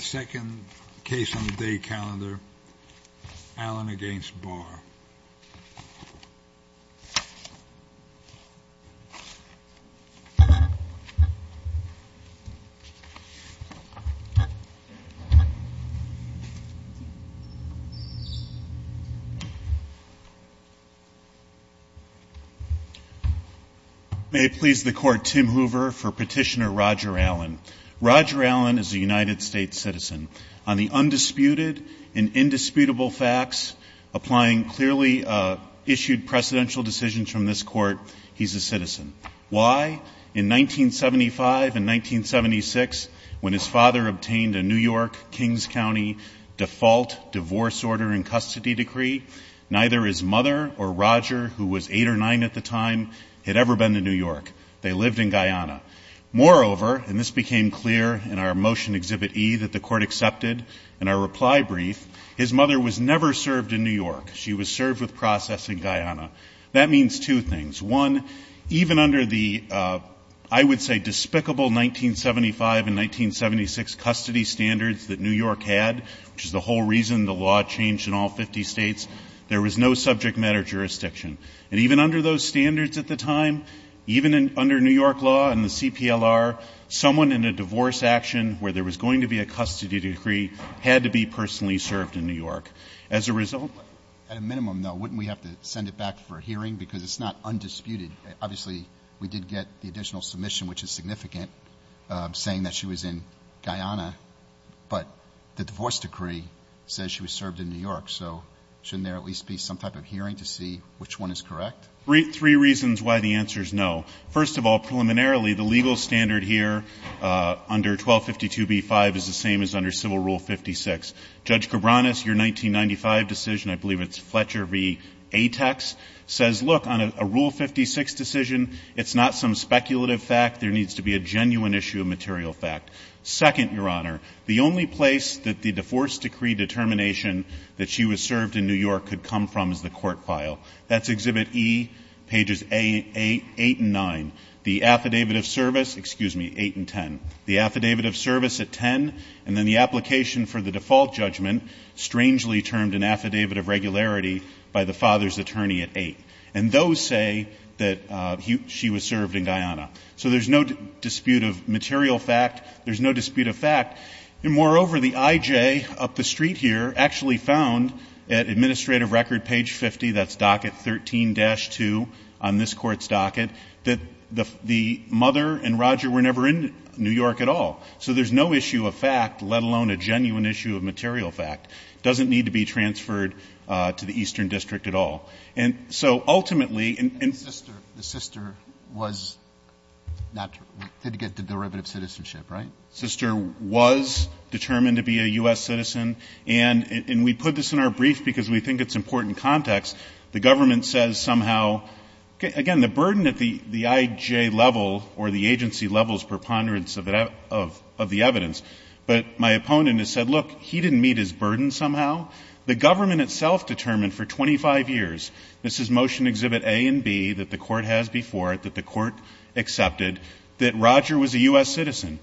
second case on the day calendar, Allen v. Barr. May it please the court, Tim Hoover for petitioner Roger Allen. Roger Allen is a United States citizen. On the undisputed and indisputable facts, applying clearly issued presidential decisions from this court, he's a citizen. Why? In 1975 and 1976, when his father obtained a New York, Kings County default divorce order and custody decree, neither his mother or Roger, who was eight or nine at the time, had ever been to New York. They lived in Guyana. Moreover, and this became clear in our motion exhibit E that the court accepted in our reply brief, his mother was never served in New York. She was served with processing Guyana. That means two things. One, even under the, I would say, despicable 1975 and 1976 custody standards that New York had, which is the whole reason the law changed in all 50 states, there was no subject matter jurisdiction. And even under those standards at the time, even under New York law and the CPLR, someone in a divorce action where there was going to be a custody decree had to be personally served in New York. As a result, at a minimum, though, wouldn't we have to send it back for a hearing? Because it's not undisputed. Obviously, we did get the additional submission, which is significant, saying that she was in Guyana. But the divorce decree says she was served in New York. So shouldn't there at least be some type of hearing to see which one is correct? Three reasons why the answer is no. First of all, preliminarily, the legal standard here under 1252b-5 is the same as under Civil Rule 56. Judge Cabranes, your 1995 decision, I believe it's Fletcher v. Atex, says, look, on a Rule 56 decision, it's not some speculative fact. There needs to be a genuine issue of material fact. Second, Your Honor, the only place that the divorce decree determination that she was served in New York could come from is the court file. That's Exhibit E, pages 8 and 9. The affidavit of service, excuse me, 8 and 10. The affidavit of service at 10, and then the application for the default judgment, strangely termed an affidavit of regularity by the father's attorney at 8. And those say that she was served in Guyana. So there's no dispute of material fact. There's no dispute of fact. Moreover, the IJ up the street here actually found at Administrative Record, page 50, that's docket 13-2 on this court's docket, that the mother and Roger were never in New York at all. So there's no issue of fact, let alone a genuine issue of material fact. It doesn't need to be transferred to the Eastern District at all. And so ultimately the sister was not to get the derivative citizenship, right? Sister was determined to be a U.S. citizen. And we put this in our brief because we think it's important context. The government says somehow, again, the burden at the IJ level or the agency level is preponderance of the evidence. But my opponent has said, look, he didn't meet his burden somehow. The government itself determined for 25 years, this is Motion Exhibit A and B that the court has before it, that the court accepted, that Roger was a U.S. citizen.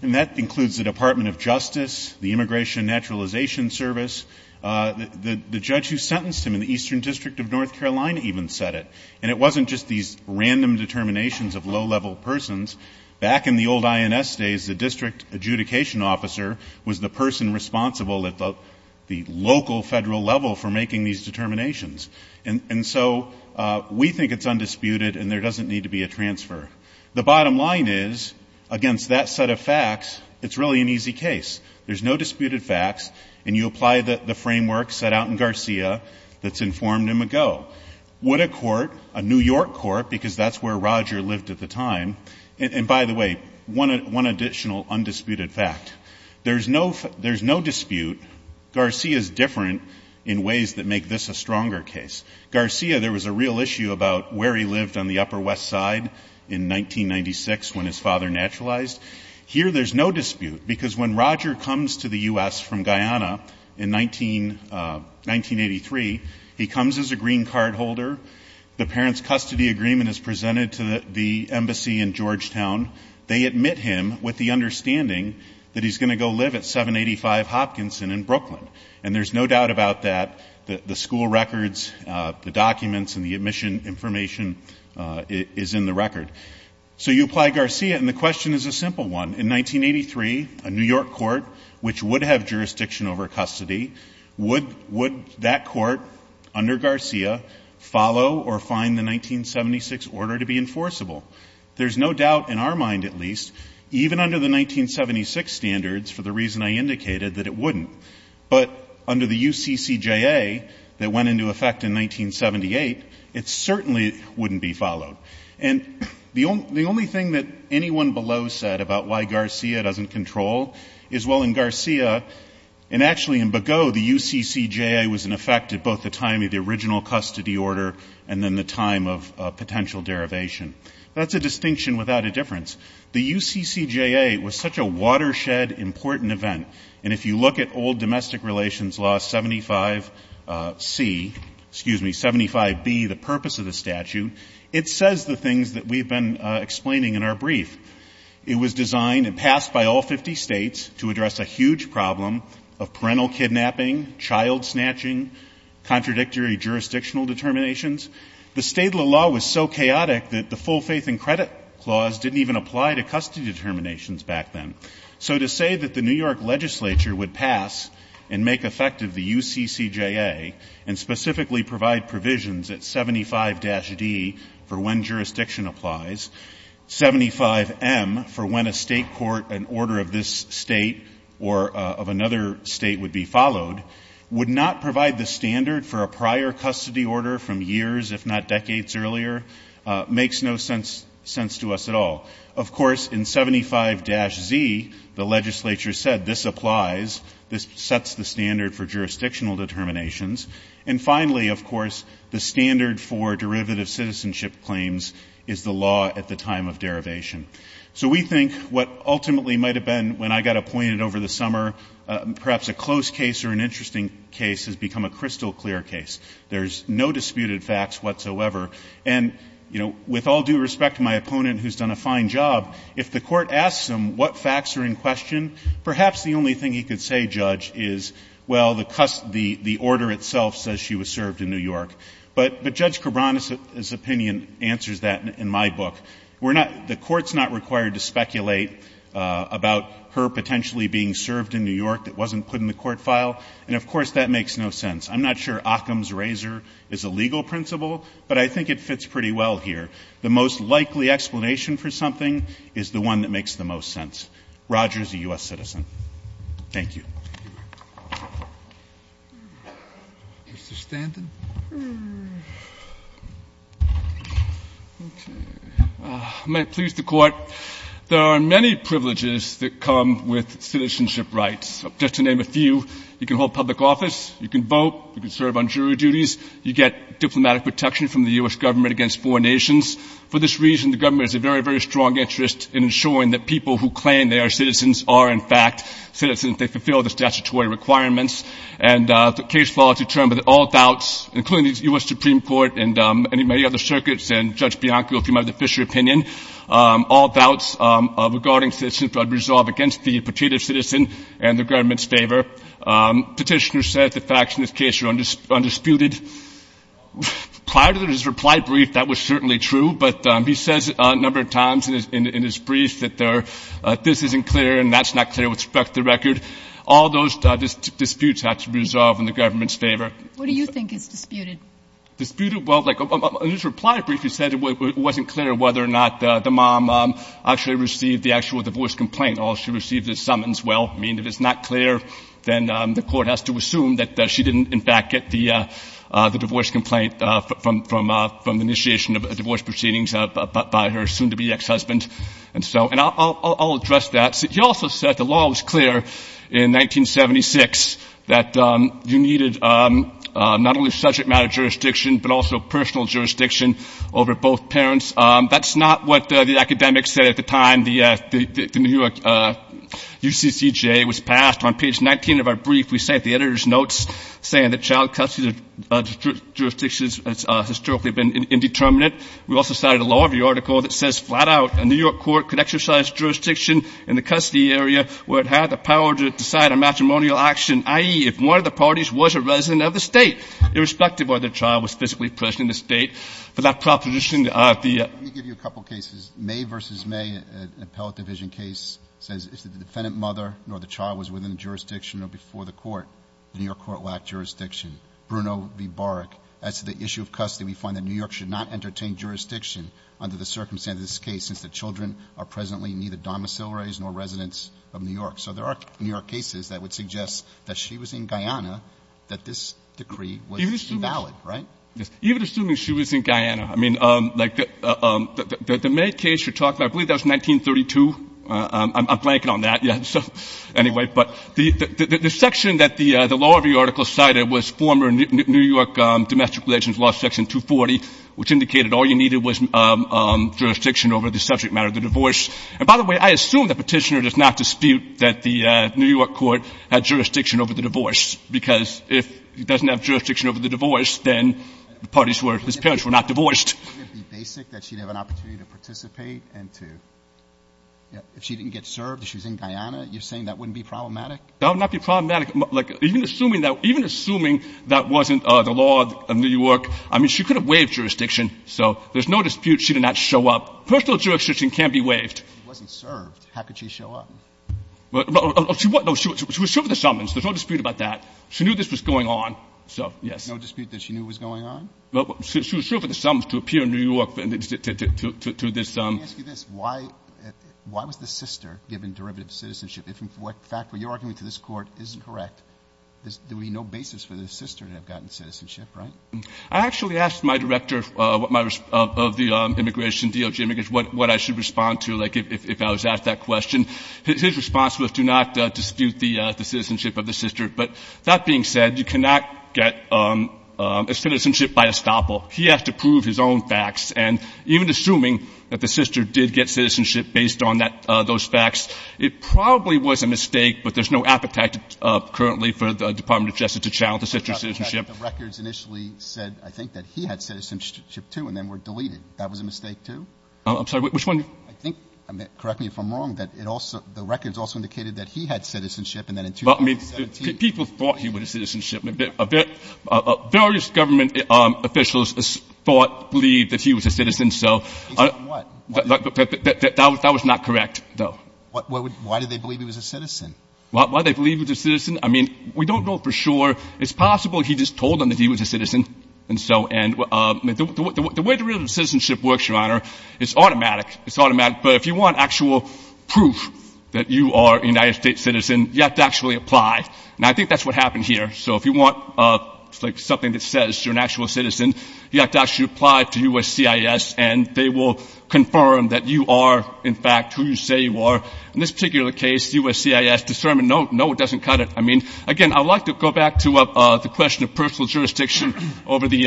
And that includes the Department of Justice, the Immigration and Naturalization Service. The judge who sentenced him in the Eastern District of North Carolina even said it. And it wasn't just these random determinations of low-level persons. Back in the old INS days, the district adjudication officer was the person responsible at the local federal level for making these determinations. And so we think it's undisputed and there doesn't need to be a transfer. The bottom line is, against that set of facts, it's really an easy case. There's no disputed facts, and you apply the framework set out in Garcia that's informed him ago. Would a court, a New York court, because that's where Roger lived at the time. And by the way, one additional undisputed fact. There's no dispute, Garcia's different in ways that make this a stronger case. Garcia, there was a real issue about where he lived on the Upper West Side in 1996 when his father naturalized. Here there's no dispute, because when Roger comes to the U.S. from Guyana in 1983, he comes as a green card holder. The parents' custody agreement is presented to the embassy in Georgetown. They admit him with the understanding that he's going to go live at 785 Hopkinson in Brooklyn. And there's no doubt about that, the school records, the documents, and the admission information is in the record. So you apply Garcia, and the question is a simple one. In 1983, a New York court, which would have jurisdiction over custody, would that court under Garcia follow or find the 1976 order to be enforceable? There's no doubt, in our mind at least, even under the 1976 standards, for the reason I indicated, that it wouldn't. But under the UCCJA that went into effect in 1978, it certainly wouldn't be followed. And the only thing that anyone below said about why Garcia doesn't control is, well, in Garcia, and actually in Begaud, the UCCJA was in effect at both the time of the original custody order and then the time of potential derivation. That's a distinction without a difference. The UCCJA was such a watershed, important event. And if you look at old domestic relations law 75C, excuse me, 75B, the purpose of the statute, it says the things that we've been explaining in our brief. It was designed and passed by all 50 states to address a huge problem of parental kidnapping, child snatching, contradictory jurisdictional determinations. The state law was so chaotic that the full faith and credit clause didn't even apply to custody determinations back then. So to say that the New York legislature would pass and make effective the UCCJA, and specifically provide provisions at 75-D for when jurisdiction applies, 75M for when a state court, an order of this state or of another state would be followed, would not provide the standard for a prior custody order from years, if not decades earlier, makes no sense to us at all. Of course, in 75-Z, the legislature said this applies. This sets the standard for jurisdictional determinations. And finally, of course, the standard for derivative citizenship claims is the law at the time of derivation. So we think what ultimately might have been, when I got appointed over the summer, perhaps a close case or an interesting case has become a crystal clear case. There's no disputed facts whatsoever. And, you know, with all due respect to my opponent, who's done a fine job, if the court asks him what facts are in question, perhaps the only thing he could say, Judge, is, well, the order itself says she was served in New York. But Judge Cabran's opinion answers that in my book. The court's not required to speculate about her potentially being served in New York that wasn't put in the court file. And, of course, that makes no sense. I'm not sure Occam's razor is a legal principle, but I think it fits pretty well here. The most likely explanation for something is the one that makes the most sense. Roger is a U.S. citizen. Thank you. Mr. Stanton? May it please the court, there are many privileges that come with citizenship rights. Just to name a few. You can hold public office. You can vote. You can serve on jury duties. You get diplomatic protection from the U.S. government against foreign nations. For this reason, the government has a very, very strong interest in ensuring that people who claim they are citizens are, in fact, citizens. They fulfill the statutory requirements. And the case law has determined that all doubts, including the U.S. Supreme Court and many other circuits and Judge Bianco, if you mind, the Fisher opinion, all doubts regarding citizenship are resolved against the particular citizen and the government's favor. Petitioner says the facts in this case are undisputed. Prior to his reply brief, that was certainly true. But he says a number of times in his briefs that this isn't clear and that's not clear with respect to record. All those disputes have to be resolved in the government's favor. What do you think is disputed? Disputed? Well, like his reply brief, he said it wasn't clear whether or not the mom actually received the actual divorce complaint or if she received the summons. Well, I mean, if it's not clear, then the court has to assume that she didn't, in fact, get the divorce complaint from initiation of a divorce proceeding by her soon-to-be ex-husband. And so I'll address that. He also said the law was clear in 1976 that you needed not only subject matter jurisdiction but also personal jurisdiction over both parents. That's not what the academics said at the time the New York UCCJ was passed. On page 19 of our brief, we cite the editor's notes saying that child custody jurisdictions have historically been indeterminate. We also cited a law review article that says flat-out a New York court could exercise jurisdiction in the custody area where it had the power to decide a matrimonial action, i.e., if one of the parties was a resident of the state, irrespective of whether the child was physically present in the state. But that proposition in the RFP… Let me give you a couple cases. May v. May, an appellate division case, says if the defendant mother or the child was within jurisdiction or before the court, the New York court lacked jurisdiction. Bruno v. Baric adds to the issue of custody, we find that New York should not entertain jurisdiction under the circumstances of this case since the children are presently neither domiciliaries nor residents of New York. So there are New York cases that would suggest that she was in Guyana, that this decree was invalid, right? Even assuming she was in Guyana, I mean, like the May case you're talking about, I believe that was 1932. I'm blanking on that. Anyway, but the section that the law review article cited was former New York domestic relations law section 240, which indicated all you needed was jurisdiction over the subject matter of the divorce. And by the way, I assume the petitioner does not dispute that the New York court had jurisdiction over the divorce, because if it doesn't have jurisdiction over the divorce, then the parties where his parents were not divorced. If she didn't get served and she was in Guyana, you're saying that wouldn't be problematic? That would not be problematic. Even assuming that wasn't the law of New York, I mean, she could have waived jurisdiction, so there's no dispute she did not show up. Personal jurisdiction can't be waived. She wasn't served. How could she show up? She was served with a summons. There's no dispute about that. She knew this was going on. No dispute that she knew was going on? She was served with a summons to appear in New York. Let me ask you this. Why was the sister given derivative citizenship? If what you're arguing to this court isn't correct, there would be no basis for the sister to have gotten citizenship, right? I actually asked my director of the immigration DOJ what I should respond to, like, if I was asked that question. His response was to not dispute the citizenship of the sister. But that being said, you cannot get a citizenship by estoppel. He has to prove his own facts. And even assuming that the sister did get citizenship based on those facts, it probably was a mistake, but there's no appetite currently for the Department of Justice to challenge the sister's citizenship. The records initially said, I think, that he had citizenship, too, and then were deleted. That was a mistake, too? I'm sorry, which one? Correct me if I'm wrong, but the records also indicated that he had citizenship. People thought he was a citizenship. Various government officials thought, believed that he was a citizen. That was not correct, though. Why did they believe he was a citizen? Why did they believe he was a citizen? I mean, we don't know for sure. It's possible he just told them that he was a citizen. The way the rule of citizenship works, Your Honor, is automatic. It's automatic. But if you want actual proof that you are a United States citizen, you have to actually apply. Now, I think that's what happened here. So if you want something that says you're an actual citizen, you have to actually apply to USCIS, and they will confirm that you are, in fact, who you say you are. In this particular case, USCIS determined, no, it doesn't cut it. I mean, again, I'd like to go back to the question of personal jurisdiction over the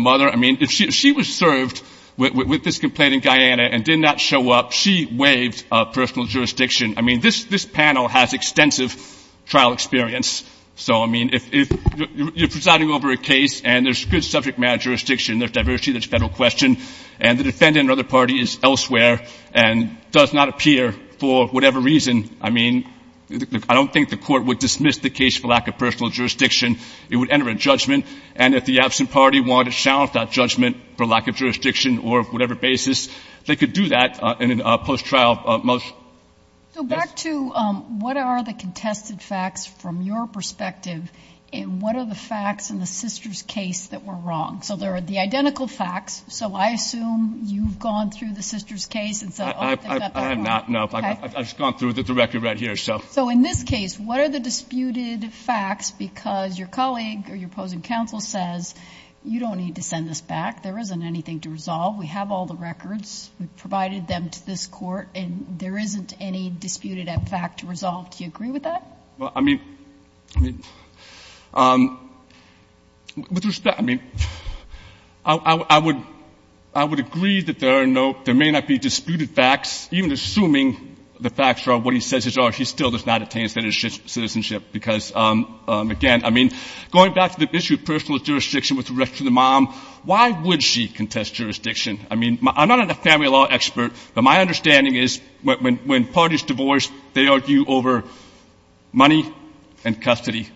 mother. I mean, if she was served with this complaint in Guyana and did not show up, she waived personal jurisdiction. I mean, this panel has extensive trial experience, so, I mean, if you're presiding over a case and there's good subject matter jurisdiction, there's diversity, there's federal question, and the defendant or other party is elsewhere and does not appear for whatever reason, I mean, I don't think the court would dismiss the case for lack of personal jurisdiction. It would enter a judgment, and if the absent party wanted to challenge that judgment for lack of jurisdiction or whatever basis, they could do that in a post-trial motion. So back to what are the contested facts from your perspective, and what are the facts in the sister's case that were wrong? So there are the identical facts, so I assume you've gone through the sister's case and said, I have not, no, I've gone through the record right here. So in this case, what are the disputed facts because your colleague or your opposing counsel says, you don't need to send this back, there isn't anything to resolve, we have all the records, we've provided them to this court, and there isn't any disputed fact to resolve. Do you agree with that? I mean, I would agree that there are no, there may not be disputed facts, even assuming the facts are what he says are, he still does not attain citizenship. Because, again, I mean, going back to the issue of personal jurisdiction with respect to the mom, why would she contest jurisdiction? I mean, I'm not a family law expert, but my understanding is when parties divorce, they argue over money and custody.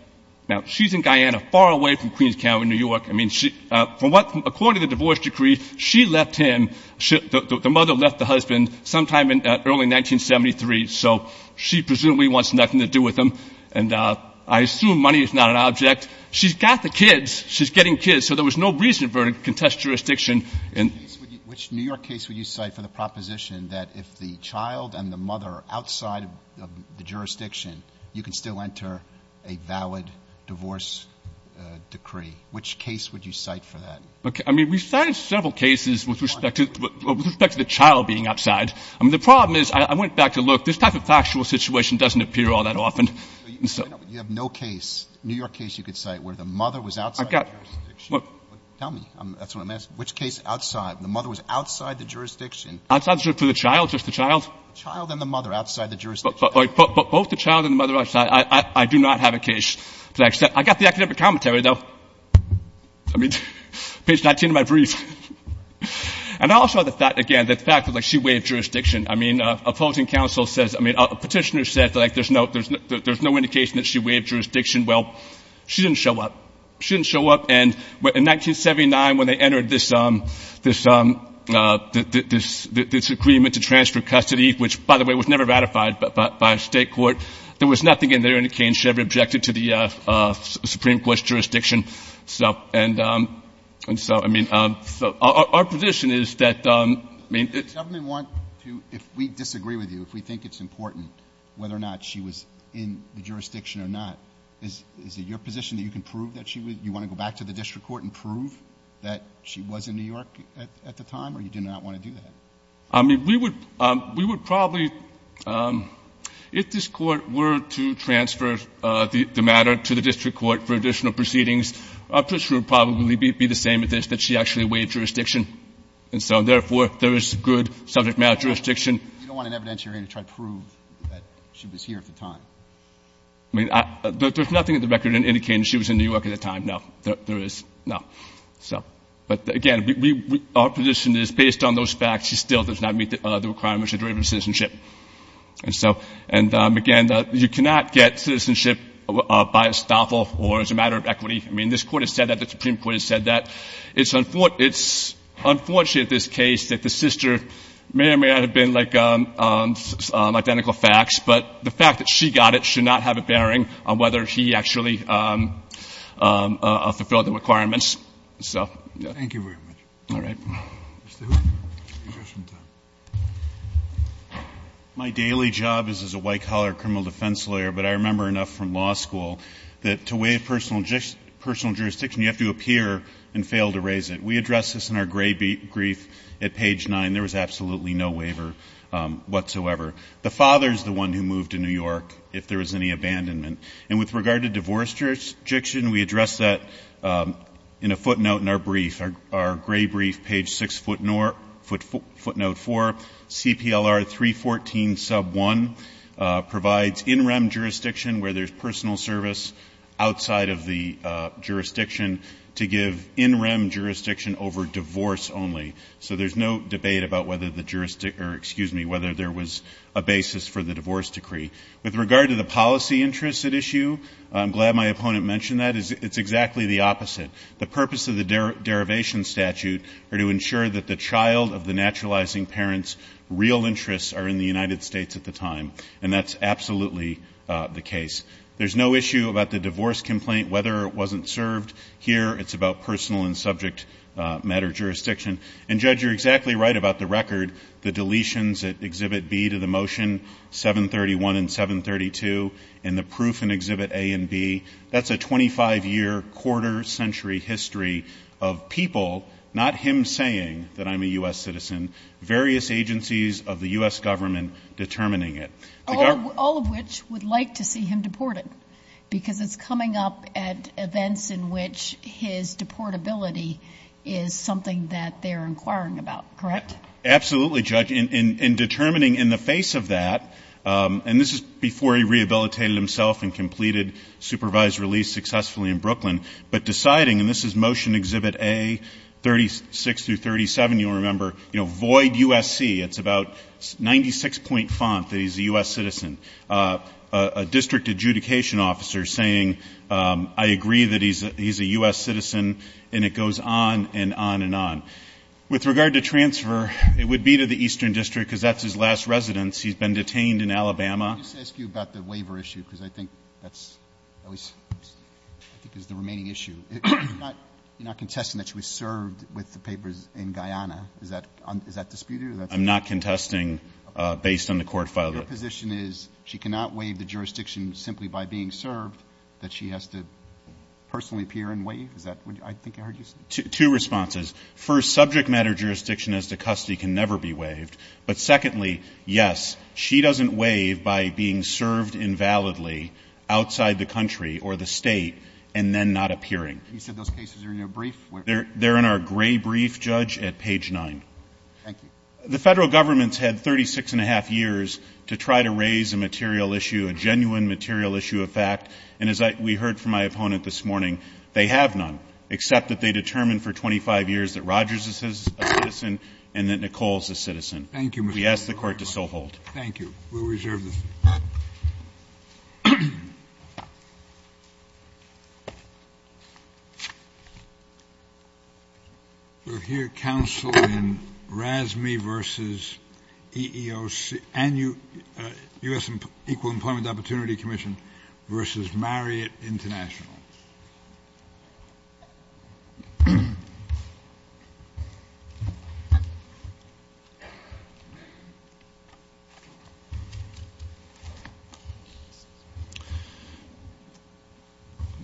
Now, she's in Guyana, far away from Queens County, New York. According to the divorce decree, she left him, the mother left the husband sometime in early 1973, so she presumably wants nothing to do with him. And I assume money is not an object. She's got the kids, she's getting kids, so there was no reason for her to contest jurisdiction. Which New York case would you cite for the proposition that if the child and the mother are outside of the jurisdiction, you can still enter a valid divorce decree? Which case would you cite for that? I mean, we've cited several cases with respect to the child being outside. I mean, the problem is, I went back to look, this type of factual situation doesn't appear all that often. You have no case, New York case you could cite where the mother was outside of the jurisdiction? Tell me. Which case outside, the mother was outside the jurisdiction? Outside the jurisdiction of the child, just the child? The child and the mother outside the jurisdiction. But both the child and the mother are outside. I do not have a case to accept. I got the academic commentary, though. I mean, page 19 of my brief. And also the fact, again, the fact that she waived jurisdiction. I mean, opposing counsel says, I mean, a petitioner says that there's no indication that she waived jurisdiction. Well, she didn't show up. She didn't show up, and in 1979, when they entered this agreement to transfer custody, which, by the way, was never ratified by a state court, there was nothing in there. She never objected to the Supreme Court's jurisdiction. And so, I mean, our position is that, I mean — If we disagree with you, if we think it's important whether or not she was in the jurisdiction or not, is it your position that you can prove that she was? You want to go back to the district court and prove that she was in New York at the time? Or you do not want to do that? I mean, we would probably — if this court were to transfer the matter to the district court for additional proceedings, this would probably be the same as this, that she actually waived jurisdiction. And so, therefore, if there is good subject matter jurisdiction — You don't want an evidence you're going to try to prove that she was here at the time. I mean, there's nothing in the record indicating she was in New York at the time. No, there is not. So, again, our position is, based on those facts, she still does not meet the requirements of derivative citizenship. And so, and again, you cannot get citizenship by estoppel or as a matter of equity. I mean, this Court has said that. The Supreme Court has said that. It's unfortunate, this case, that the sister may or may not have been, like, on identical facts, but the fact that she got it should not have a bearing on whether she actually fulfilled the requirements. So, yeah. Thank you very much. All right. My daily job is as a white-collar criminal defense lawyer, but I remember enough from law school that to waive personal jurisdiction, you have to appear and fail to raise it. We addressed this in our gray brief at page 9. There was absolutely no waiver whatsoever. The father is the one who moved to New York if there was any abandonment. And with regard to divorce jurisdiction, we addressed that in a footnote in our brief, our gray brief, page 6 footnote 4. CPLR 314 sub 1 provides in-rem jurisdiction where there's personal service outside of the jurisdiction to give in-rem jurisdiction over divorce only. So there's no debate about whether there was a basis for the divorce decree. With regard to the policy interests at issue, I'm glad my opponent mentioned that. It's exactly the opposite. The purpose of the derivation statute are to ensure that the child of the naturalizing parent's real interests are in the United States at the time, and that's absolutely the case. There's no issue about the divorce complaint, whether it wasn't served. Here it's about personal and subject matter jurisdiction. And, Judge, you're exactly right about the record, the deletions at Exhibit B to the motion, 731 and 732, and the proof in Exhibit A and B. That's a 25-year, quarter-century history of people, not him saying that I'm a U.S. citizen, various agencies of the U.S. government determining it. All of which would like to see him deported because it's coming up at events in which his deportability is something that they're inquiring about, correct? Absolutely, Judge. In determining in the face of that, and this is before he rehabilitated himself and completed supervised release successfully in Brooklyn, but deciding, and this is Motion Exhibit A, 36 through 37, you'll remember, you know, void USC. It's about 96-point font that he's a U.S. citizen. A district adjudication officer saying, I agree that he's a U.S. citizen, and it goes on and on and on. With regard to transfer, it would be to the Eastern District because that's his last residence. He's been detained in Alabama. Let me ask you about the labor issue because I think that's always the main issue. You're not contesting that she was served with the papers in Guyana. Is that disputed? I'm not contesting based on the court file. Your position is she cannot waive the jurisdiction simply by being served, that she has to personally appear and waive? Two responses. First, subject matter jurisdiction as to custody can never be waived. But secondly, yes, she doesn't waive by being served invalidly outside the country or the state and then not appearing. You said those cases are in your brief? They're in our gray brief, Judge, at page 9. Thank you. The federal government's had 36-and-a-half years to try to raise a material issue, a genuine material issue of fact, and as we heard from my opponent this morning, they have none, except that they determined for 25 years that Rogers is a citizen and that Nicole is a citizen. Thank you. We ask the court to so hold. Thank you. We'll reserve this. Thank you. We'll hear counsel in RASME versus EEOC, and U.S. Equal Employment Opportunity Commission versus Marriott International.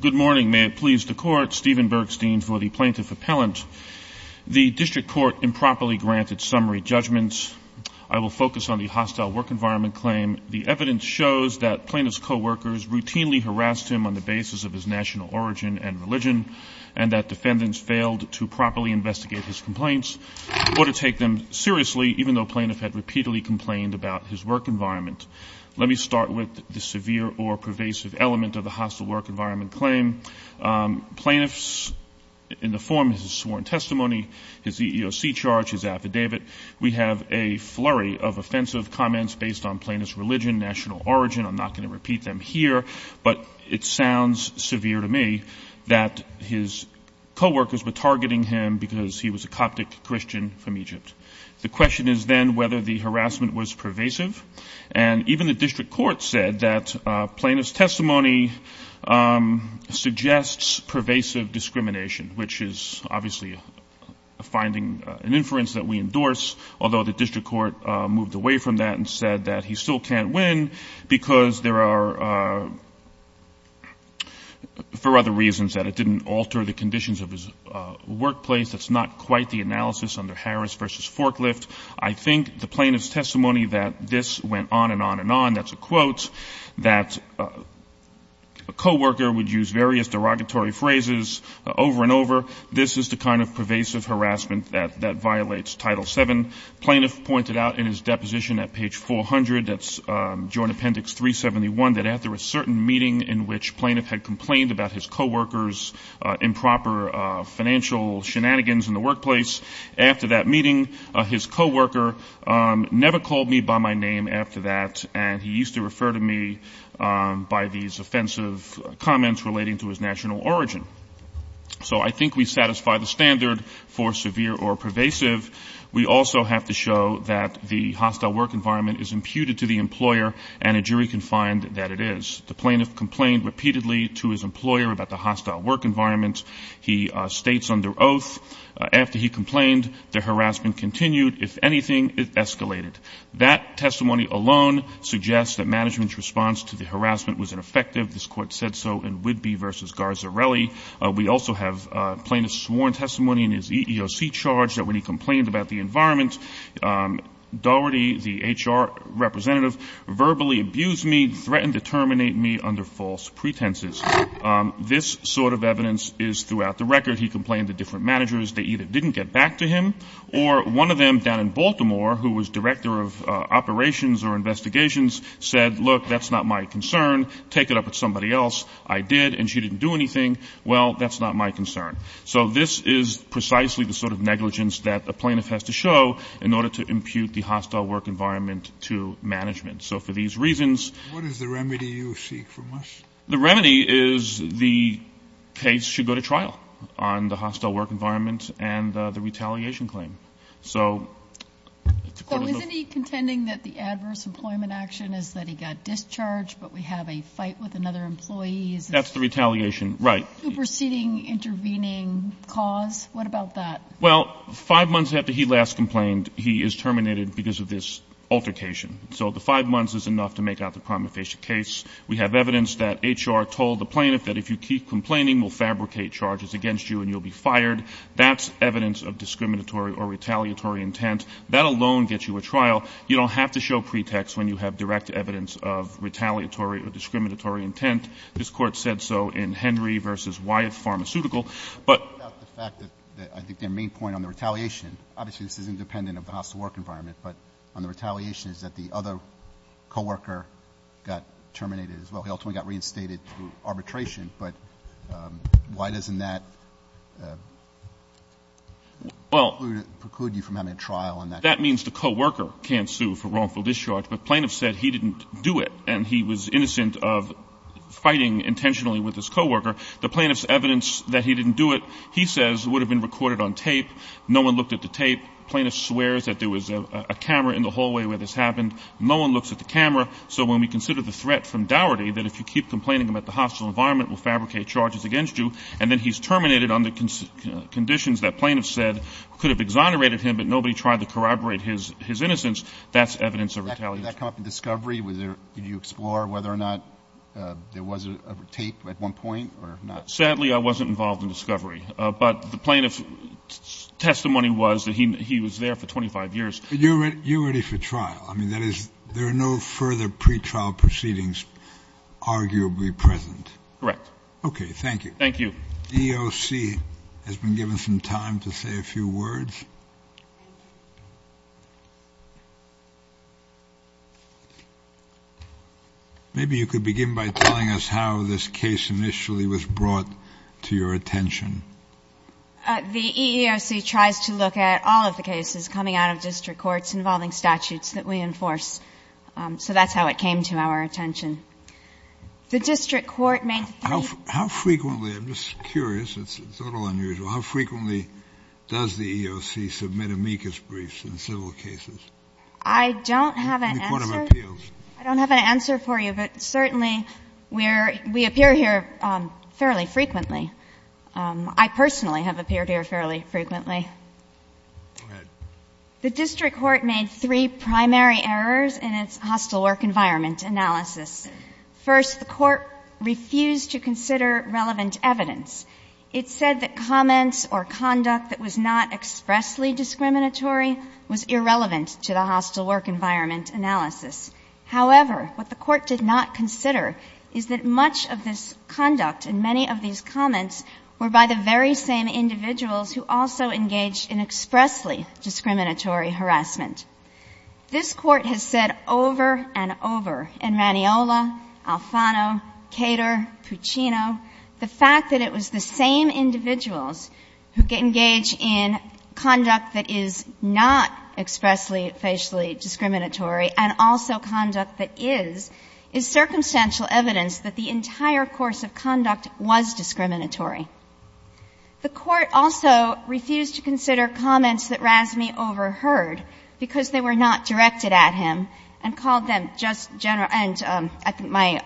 Good morning. May it please the court, Stephen Bergstein for the plaintiff appellant. The district court improperly granted summary judgments. I will focus on the hostile work environment claim. The evidence shows that plaintiff's coworkers routinely harassed him on the basis of his national origin and religion and that defendants failed to properly investigate his complaints or to take them seriously, even though the plaintiff had repeatedly complained about his work environment. Let me start with the severe or pervasive element of the hostile work environment claim. Plaintiffs, in the form of his sworn testimony, his EEOC charge, his affidavit, we have a flurry of offensive comments based on plaintiff's religion, national origin. I'm not going to repeat them here, but it sounds severe to me that his coworkers were targeting him because he was a Coptic Christian from Egypt. The question is then whether the harassment was pervasive, and even the district court said that plaintiff's testimony suggests pervasive discrimination, which is obviously a finding, an inference that we endorse, although the district court moved away from that and said that he still can't win because there are, for other reasons, that it didn't alter the conditions of his workplace. That's not quite the analysis under Harris v. Forklift. I think the plaintiff's testimony that this went on and on and on, that's a quote, that a coworker would use various derogatory phrases over and over, this is the kind of pervasive harassment that violates Title VII. Plaintiff pointed out in his deposition at page 400, that's Joint Appendix 371, that after a certain meeting in which plaintiff had complained about his coworkers' improper financial shenanigans in the workplace, after that meeting, his coworker never called me by my name after that, and he used to refer to me by these offensive comments relating to his national origin. So I think we satisfy the standard for severe or pervasive. We also have to show that the hostile work environment is imputed to the employer, and a jury can find that it is. The plaintiff complained repeatedly to his employer about the hostile work environment. He states under oath, after he complained, the harassment continued. If anything, it escalated. That testimony alone suggests that management's response to the harassment was ineffective. This court said so in Whidbey v. Garzarelli. We also have plaintiff's sworn testimony in his EEOC charge that when he complained about the environment, Doherty, the HR representative, verbally abused me, threatened to terminate me under false pretenses. This sort of evidence is throughout the record. He complained to different managers. They either didn't get back to him, or one of them down in Baltimore, who was director of operations or investigations, said, look, that's not my concern. Take it up with somebody else. I did, and she didn't do anything. Well, that's not my concern. So this is precisely the sort of negligence that a plaintiff has to show in order to impute the hostile work environment to management. So for these reasons, What is the remedy you seek from us? The remedy is the case should go to trial on the hostile work environment and the retaliation claim. So isn't he contending that the adverse employment action is that he got discharged, but we have a fight with another employee? That's the retaliation, right. Superseding intervening cause? What about that? Well, five months after he last complained, he is terminated because of this altercation. So the five months is enough to make out the prima facie case. We have evidence that HR told the plaintiff that if you keep complaining, we'll fabricate charges against you and you'll be fired. That's evidence of discriminatory or retaliatory intent. That alone gets you a trial. You don't have to show pretext when you have direct evidence of retaliatory or discriminatory intent. This court said so in Henry v. Wyatt Pharmaceutical, but I think the main point on the retaliation, obviously this is independent of the hostile work environment, but on the retaliation is that the other co-worker got terminated as well. He also got reinstated for arbitration. But why doesn't that preclude you from having a trial on that? That means the co-worker can't sue for wrongful discharge. The plaintiff said he didn't do it, and he was innocent of fighting intentionally with his co-worker. The plaintiff's evidence that he didn't do it, he says, would have been recorded on tape. No one looked at the tape. The plaintiff swears that there was a camera in the hallway where this happened. No one looked at the camera. So when we consider the threat from Dougherty, that if you keep complaining about the hostile environment, we'll fabricate charges against you, and then he's terminated under conditions that plaintiffs said could have exonerated him, but nobody tried to corroborate his innocence, that's evidence of retaliation. Did that come from discovery? Did you explore whether or not there was a tape at one point or not? Sadly, I wasn't involved in discovery. But the plaintiff's testimony was that he was there for 25 years. You're ready for trial. I mean, there are no further pretrial proceedings arguably present. Okay, thank you. Thank you. EOC has been given some time to say a few words. Maybe you could begin by telling us how this case initially was brought to your attention. The EEOC tries to look at all of the cases coming out of district courts involving statutes that we enforce, so that's how it came to our attention. The district court makes the... How frequently, I'm just curious, it's totally unusual, how frequently does the EEOC submit amicus briefs in civil cases? I don't have an answer. Any point of appeals? I don't have an answer for you, but certainly we appear here fairly frequently. I personally have appeared here fairly frequently. Go ahead. The district court made three primary errors in its hostile work environment analysis. First, the court refused to consider relevant evidence. It said that comments or conduct that was not expressly discriminatory was irrelevant to the hostile work environment analysis. However, what the court did not consider is that much of this conduct and many of these comments were by the very same individuals who also engaged in expressly discriminatory harassment. This court has said over and over, in Raniola, Alfano, Cater, Puccino, the fact that it was the same individuals who engage in conduct that is not expressly, facially discriminatory and also conduct that is, is circumstantial evidence that the entire course of conduct was discriminatory. The court also refused to consider comments that Razmi overheard because they were not directed at him and called them just general... My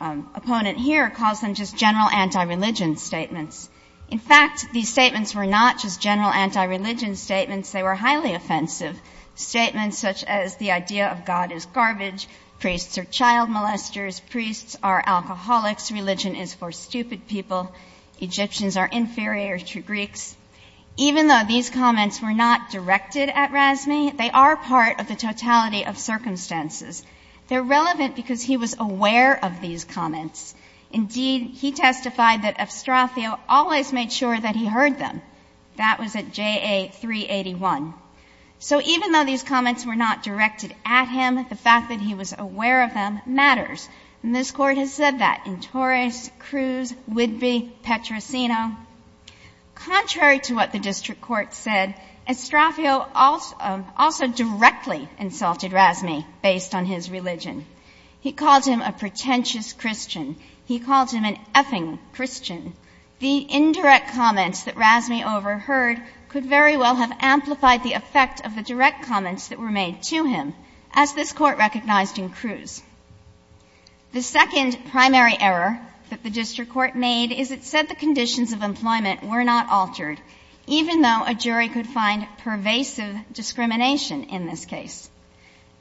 opponent here calls them just general anti-religion statements. In fact, these statements were not just general anti-religion statements. They were highly offensive statements such as the idea of God is garbage, priests are child molesters, priests are alcoholics, religion is for stupid people, Egyptians are inferior to Greeks. Even though these comments were not directed at Razmi, they are part of the totality of circumstances. They're relevant because he was aware of these comments. Indeed, he testified that Estrafio always made sure that he heard them. That was at JA 381. So even though these comments were not directed at him, the fact that he was aware of them matters. And this court has said that in Torres, Cruz, Whitby, Petrosino. Contrary to what the district court said, Estrafio also directly insulted Razmi based on his religion. He calls him a pretentious Christian. He calls him an effing Christian. The indirect comments that Razmi overheard could very well have amplified the effect of the direct comments that were made to him, as this court recognized in Cruz. The second primary error that the district court made is it said the conditions of employment were not altered, even though a jury could find pervasive discrimination in this case.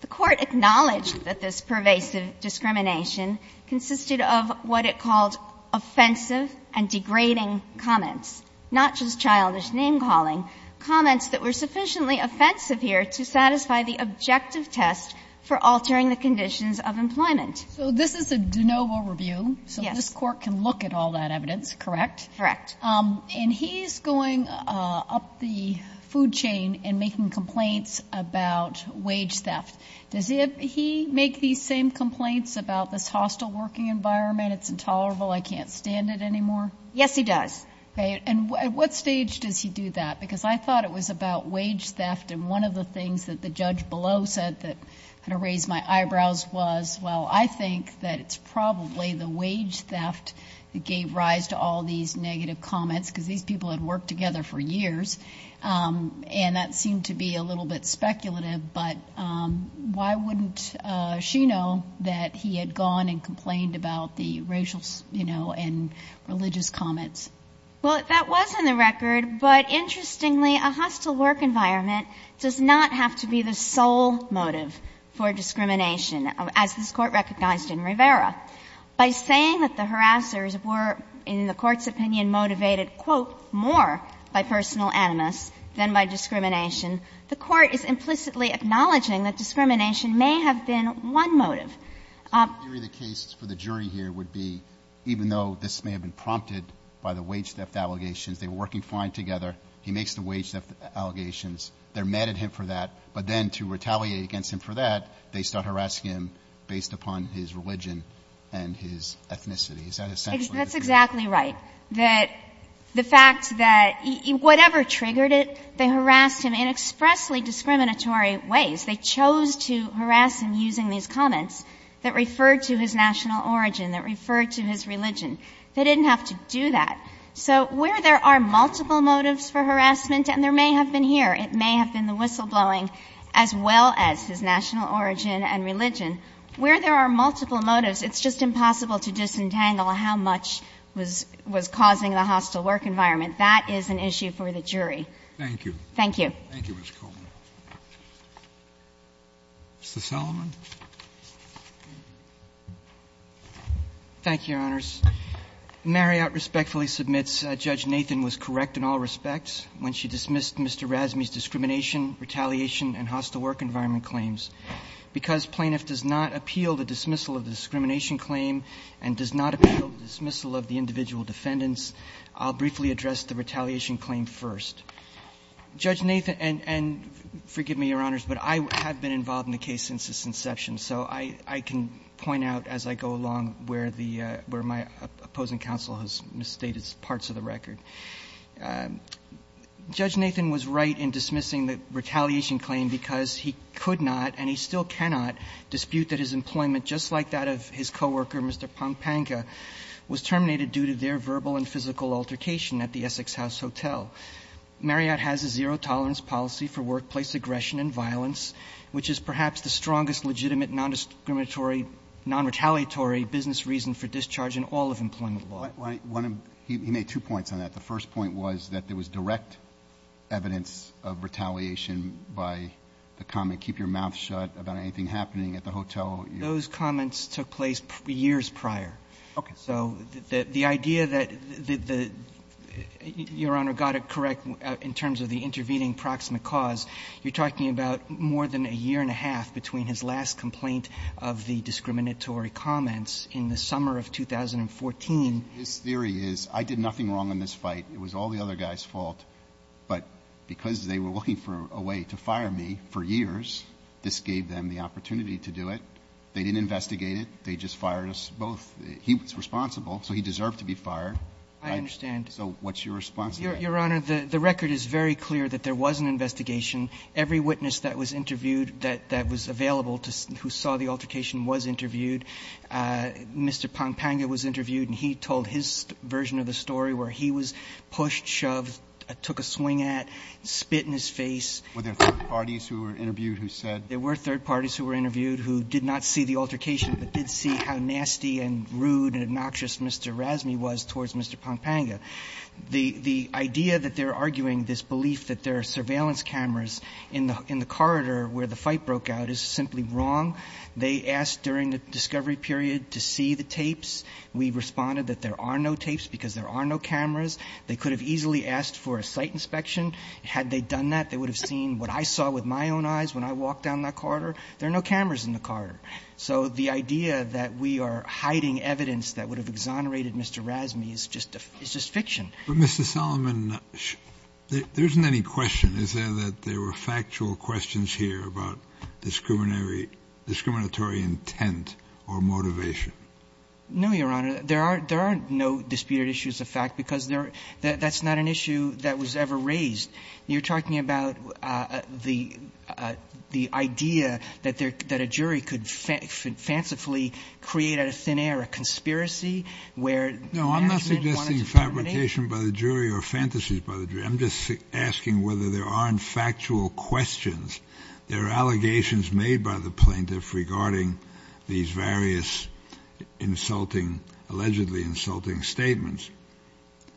The court acknowledged that this pervasive discrimination consisted of what it called offensive and degrading comments, not just childish name-calling, comments that were sufficiently offensive here to satisfy the objective test for altering the conditions of employment. So this is a de novo review. So this court can look at all that evidence, correct? Correct. And he's going up the food chain and making complaints about wage theft. Does he make these same complaints about this hostile working environment? It's intolerable. I can't stand it anymore. Yes, he does. And at what stage does he do that? Because I thought it was about wage theft, and one of the things that the judge below said that kind of raised my eyebrows was, well, I think that it's probably the wage theft that gave rise to all these negative comments because these people had worked together for years, and that seemed to be a little bit speculative, but why wouldn't she know that he had gone and complained about the racial and religious comments? Well, that was on the record, but interestingly, a hostile work environment does not have to be the sole motive for discrimination. As this court recognized in Rivera, by saying that the harassers were, in the court's opinion, motivated, quote, more by personal animus than by discrimination, the court is implicitly acknowledging that discrimination may have been one motive. The case for the jury here would be, even though this may have been prompted by the wage theft allegations, they were working fine together, he makes the wage theft allegations, they're mad at him for that, but then to retaliate against him for that, they start harassing him based upon his religion and his ethnicity. That's exactly right, that the fact that whatever triggered it, they harassed him in expressly discriminatory ways. They chose to harass him using these comments that referred to his national origin, that referred to his religion. They didn't have to do that. So where there are multiple motives for harassment, and there may have been here, it may have been the whistleblowing as well as his national origin and religion. Where there are multiple motives, it's just impossible to disentangle how much was causing a hostile work environment. That is an issue for the jury. Thank you. Thank you. Thank you, Ms. Coleman. Mr. Salomon? Thank you, Your Honors. Marriott respectfully submits Judge Nathan was correct in all respects when she dismissed Mr. Razmi's discrimination, retaliation, and hostile work environment claims. Because plaintiff does not appeal the dismissal of the discrimination claim and does not appeal the dismissal of the individual defendants, I'll briefly address the retaliation claim first. Judge Nathan, and forgive me, Your Honors, but I have been involved in the case since its inception, so I can point out as I go along where my opposing counsel has misstated parts of the record. Judge Nathan was right in dismissing the retaliation claim because he could not and he still cannot dispute that his employment, just like that of his coworker, Mr. Pompanga, was terminated due to their verbal and physical altercation at the Essex House Hotel. Marriott has a zero tolerance policy for workplace aggression and violence, which is perhaps the strongest legitimate non-discriminatory, non-retaliatory business reason for discharge in all of employment law. He made two points on that. The first point was that there was direct evidence of retaliation by the comment, keep your mouth shut about anything happening at the hotel. Those comments took place years prior. So the idea that Your Honor got it correct in terms of the intervening proximate cause, you're talking about more than a year and a half between his last complaint of the discriminatory comments in the summer of 2014. His theory is I did nothing wrong in this fight. It was all the other guy's fault. But because they were looking for a way to fire me for years, this gave them the opportunity to do it. They didn't investigate it. They just fired us both. He was responsible, so he deserved to be fired. I understand. So what's your response? Your Honor, the record is very clear that there was an investigation. Every witness that was interviewed that was available who saw the altercation was interviewed. Mr. Pampanga was interviewed, and he told his version of the story where he was pushed, shoved, took a swing at, spit in his face. Were there third parties who were interviewed who said? There were third parties who were interviewed who did not see the altercation but did see how nasty and rude and obnoxious Mr. Razmi was towards Mr. Pampanga. The idea that they're arguing this belief that there are surveillance cameras in the corridor where the fight broke out is simply wrong. They asked during the discovery period to see the tapes. We responded that there are no tapes because there are no cameras. They could have easily asked for a site inspection. Had they done that, they would have seen what I saw with my own eyes when I walked down that corridor. There are no cameras in the corridor. So the idea that we are hiding evidence that would have exonerated Mr. Razmi is just fiction. But Mr. Solomon, there isn't any question. Is there that there were factual questions here about discriminatory intent or motivation? No, Your Honor. There are no disputed issues of fact because that's not an issue that was ever raised. You're talking about the idea that a jury could fancifully create a thin air, a conspiracy? No, I'm not suggesting fabrication by the jury or fantasies by the jury. I'm just asking whether there aren't factual questions. There are allegations made by the plaintiff regarding these various allegedly insulting statements.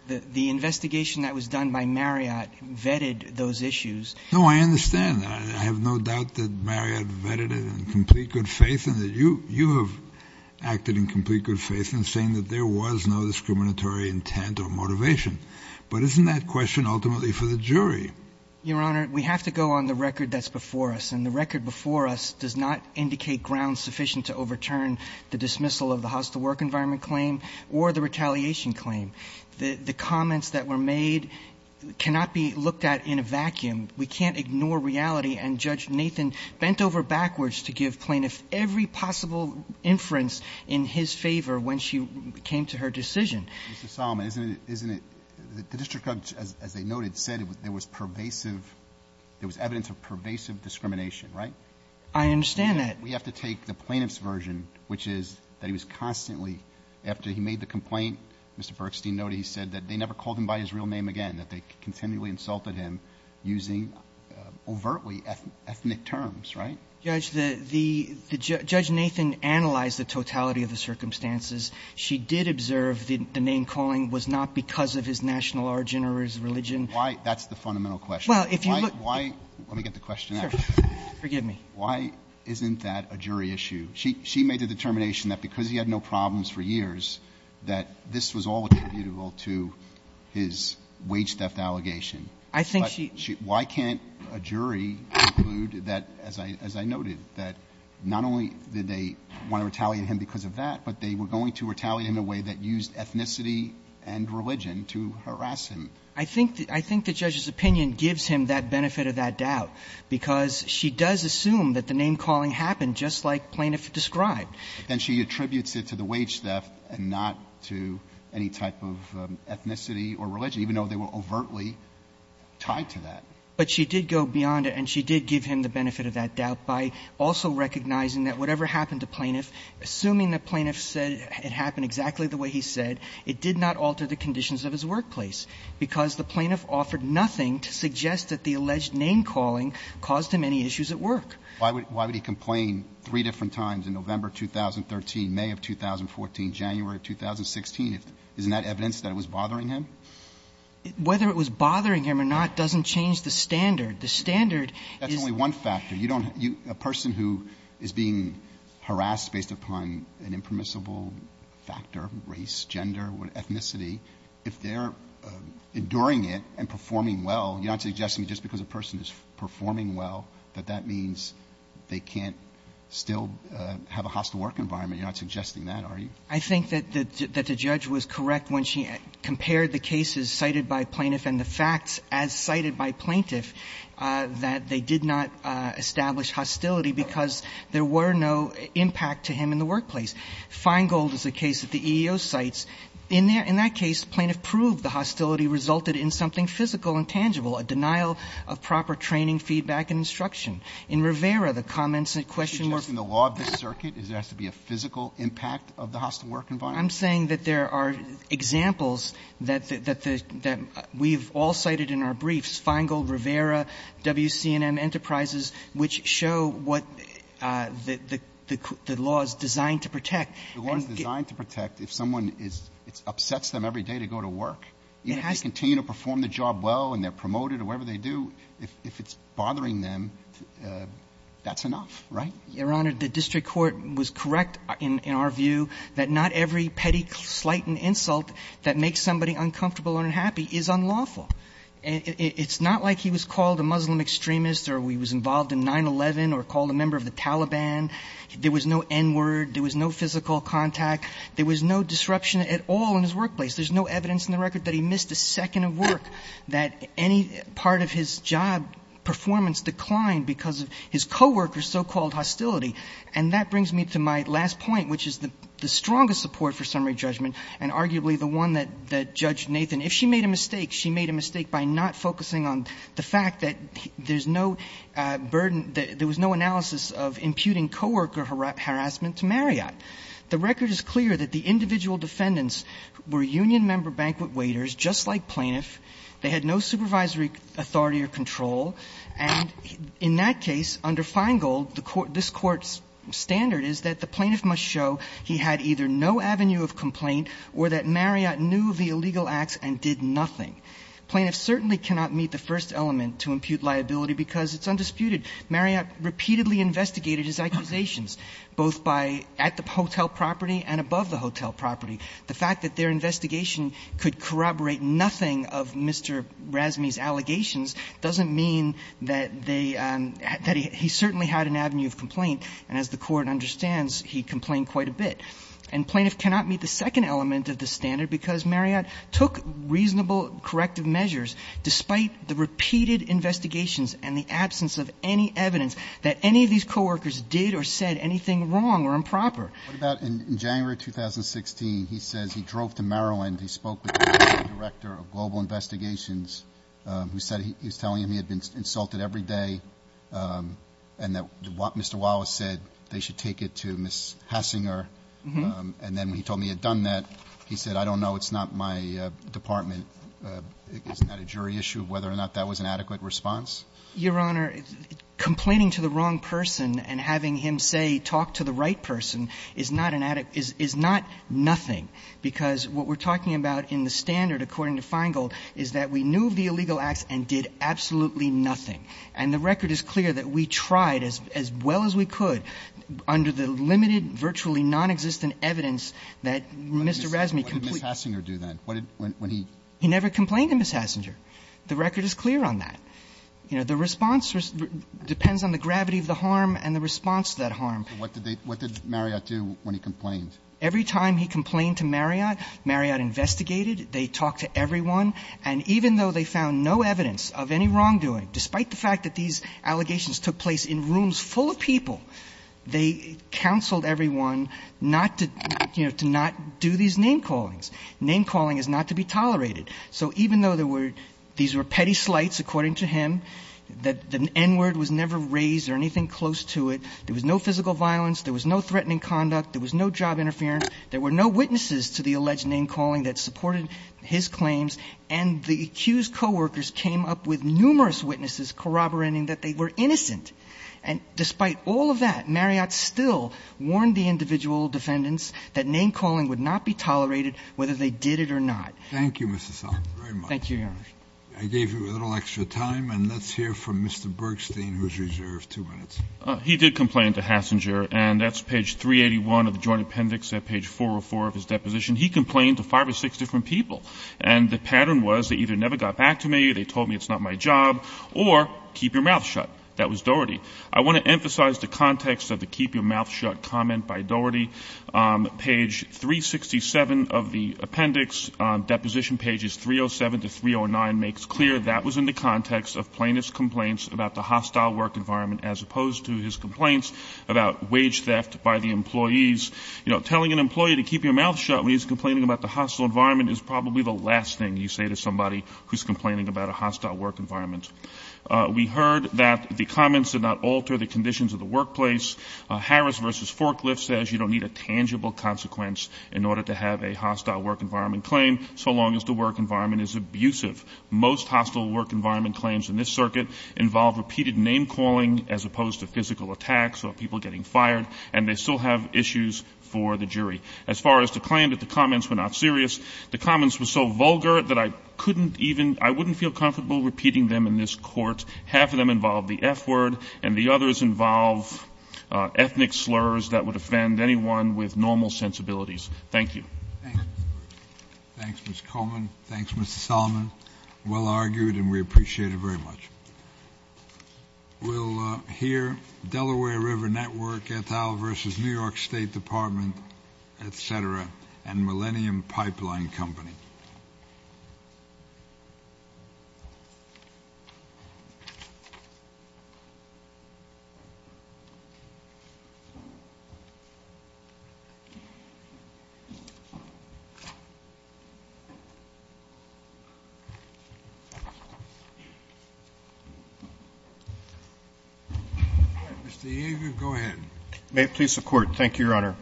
The investigation that was done by Marriott vetted those issues. No, I understand that. I have no doubt that Marriott vetted it in complete good faith and that you have acted in complete good faith in saying that there was no discriminatory intent or motivation. But isn't that question ultimately for the jury? Your Honor, we have to go on the record that's before us. And the record before us does not indicate ground sufficient to overturn the dismissal of the hostile work environment claim or the retaliation claim. The comments that were made cannot be looked at in a vacuum. We can't ignore reality. And Judge Nathan bent over backwards to give plaintiffs every possible inference in his favor when she came to her decision. Mr. Solomon, the district judge, as they noted, said it was evidence of pervasive discrimination, right? I understand that. We have to take the plaintiff's version, which is that he was constantly, after he made the complaint, Mr. Bergstein noted he said that they never called him by his real name again, that they continually insulted him using overtly ethnic terms, right? Judge Nathan analyzed the totality of the circumstances. She did observe the name-calling was not because of his national origin or his religion. Why? That's the fundamental question. Why? Let me get the question out. Sure. Forgive me. Why isn't that a jury issue? She made the determination that because he had no problems for years, that this was all attributable to his wage theft allegation. I think she – Why can't a jury conclude that, as I noted, that not only did they want to retaliate him because of that, but they were going to retaliate in a way that used ethnicity and religion to harass him? I think the judge's opinion gives him that benefit of that doubt, because she does assume that the name-calling happened just like plaintiff described. Then she attributes it to the wage theft and not to any type of ethnicity or religion, even though they were overtly tied to that. But she did go beyond it, and she did give him the benefit of that doubt by also recognizing that whatever happened to plaintiff, assuming that plaintiff said it happened exactly the way he said, it did not alter the conditions of his workplace, because the plaintiff offered nothing to suggest that the alleged name-calling caused him any issues at work. Why would he complain three different times in November 2013, May of 2014, January of 2016? Isn't that evidence that it was bothering him? Whether it was bothering him or not doesn't change the standard. That's only one factor. A person who is being harassed based upon an impermissible factor, race, gender, ethnicity, if they're enduring it and performing well, you're not suggesting just because a person is performing well that that means they can't still have a hostile work environment. You're not suggesting that, are you? I think that the judge was correct when she compared the cases cited by plaintiff and the facts as cited by plaintiff that they did not establish hostility because there were no impact to him in the workplace. Feingold is a case that the EEO cites. In that case, plaintiff proved the hostility resulted in something physical and tangible, a denial of proper training, feedback, and instruction. In Rivera, the comments and questions... Does it have to be a physical impact of the hostile work environment? I'm saying that there are examples that we've all cited in our briefs, Feingold, Rivera, WC&M Enterprises, which show what the law is designed to protect. The law is designed to protect if someone upsets them every day to go to work. If they continue to perform the job well and they're promoted or whatever they do, if it's bothering them, that's enough, right? Your Honor, the district court was correct in our view that not every petty slight and insult that makes somebody uncomfortable or unhappy is unlawful. It's not like he was called a Muslim extremist or he was involved in 9-11 or called a member of the Taliban. There was no N-word. There was no physical contact. There was no disruption at all in his workplace. There's no evidence in the record that he missed a second of work, that any part of his job performance declined because of his co-worker's so-called hostility. And that brings me to my last point, which is the strongest support for summary judgment and arguably the one that Judge Nathan, if she made a mistake, she made a mistake by not focusing on the fact that there was no analysis of imputing co-worker harassment to Marriott. The record is clear that the individual defendants were union member banquet waiters, just like plaintiffs. They had no supervisory authority or control. And in that case, under Feingold, this court's standard is that the plaintiff must show he had either no avenue of complaint or that Marriott knew the illegal act and did nothing. Plaintiffs certainly cannot meet the first element to impute liability because it's undisputed. Marriott repeatedly investigated his accusations, both at the hotel property and above the hotel property. The fact that their investigation could corroborate nothing of Mr. Razmi's allegations doesn't mean that he certainly had an avenue of complaint. And as the court understands, he complained quite a bit. And plaintiffs cannot meet the second element of the standard because Marriott took reasonable corrective measures, despite the repeated investigations and the absence of any evidence that any of these co-workers did or said anything wrong or improper. What about in January 2016? He said he drove to Maryland. He spoke with the director of global investigations. He said he was telling him he had been insulted every day and that Mr. Wallace said they should take it to Ms. Hassinger. And then he told me he had done that. He said, I don't know. It's not my department. Isn't that a jury issue of whether or not that was an adequate response? Your Honor, complaining to the wrong person and having him say talk to the right person is not nothing because what we're talking about in the standard, according to Feingold, is that we knew of the illegal act and did absolutely nothing. And the record is clear that we tried as well as we could under the limited, virtually nonexistent evidence that Mr. Razmi completely How did Ms. Hassinger do that? He never complained to Ms. Hassinger. The record is clear on that. The response depends on the gravity of the harm and the response to that harm. What did Marriott do when he complained? Every time he complained to Marriott, Marriott investigated. They talked to everyone. And even though they found no evidence of any wrongdoing, despite the fact that these allegations took place in rooms full of people, they counseled everyone not to do these name callings. Name calling is not to be tolerated. So even though these were petty slights, according to him, the N-word was never raised or anything close to it, there was no physical violence, there was no threatening conduct, there was no job interference, there were no witnesses to the alleged name calling that supported his claims, and the accused co-workers came up with numerous witnesses corroborating that they were innocent. And despite all of that, Marriott still warned the individual defendants that name calling would not be tolerated whether they did it or not. Thank you, Mr. Salk, very much. Thank you, Henry. I gave you a little extra time, and let's hear from Mr. Bergstein, who is reserved two minutes. He did complain to Hassinger, and that's page 381 of the Joint Appendix, at page 404 of his deposition. He complained to five or six different people, and the pattern was they either never got back to me, they told me it's not my job, or keep your mouth shut. That was Doherty. I want to emphasize the context of the keep your mouth shut comment by Doherty. Page 367 of the appendix, deposition pages 307 to 309, makes clear that was in the context of plaintiff's complaints about the hostile work environment as opposed to his complaints about wage theft by the employees. Telling an employee to keep your mouth shut when he's complaining about the hostile environment is probably the last thing you say to somebody who's complaining about a hostile work environment. We heard that the comments did not alter the conditions of the workplace. Harris v. Forklift says you don't need a tangible consequence in order to have a hostile work environment claim, so long as the work environment is abusive. Most hostile work environment claims in this circuit involve repeated name calling as opposed to physical attacks or people getting fired, and they still have issues for the jury. As far as the claim that the comments were not serious, the comments were so vulgar that I wouldn't feel comfortable repeating them in this court. Half of them involve the F word, and the others involve ethnic slurs that would offend anyone with normal sensibilities. Thank you. Thanks, Mr. Coleman. Thanks, Mr. Solomon. Well argued, and we appreciate it very much. We'll hear Delaware River Network, Et al. v. New York State Department, etc., and Millennium Pipeline Company. Mr. Yeager, go ahead. May it please the Court. Thank you, Your Honor.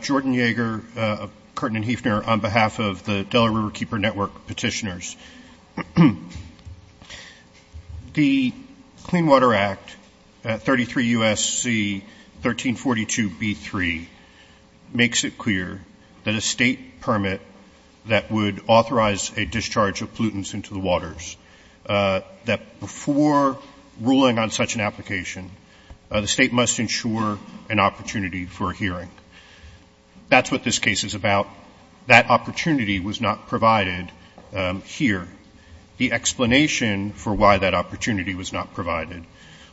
Jordan Yeager of Curtin & Hefner on behalf of the Delaware Riverkeeper Network petitioners. The Clean Water Act, 33 U.S.C. 1342b3, makes it clear that a state permit that would authorize a discharge of pollutants into the waters, that before ruling on such an application, the state must ensure an opportunity for a hearing. That's what this case is about. That opportunity was not provided here. The explanation for why that opportunity was not provided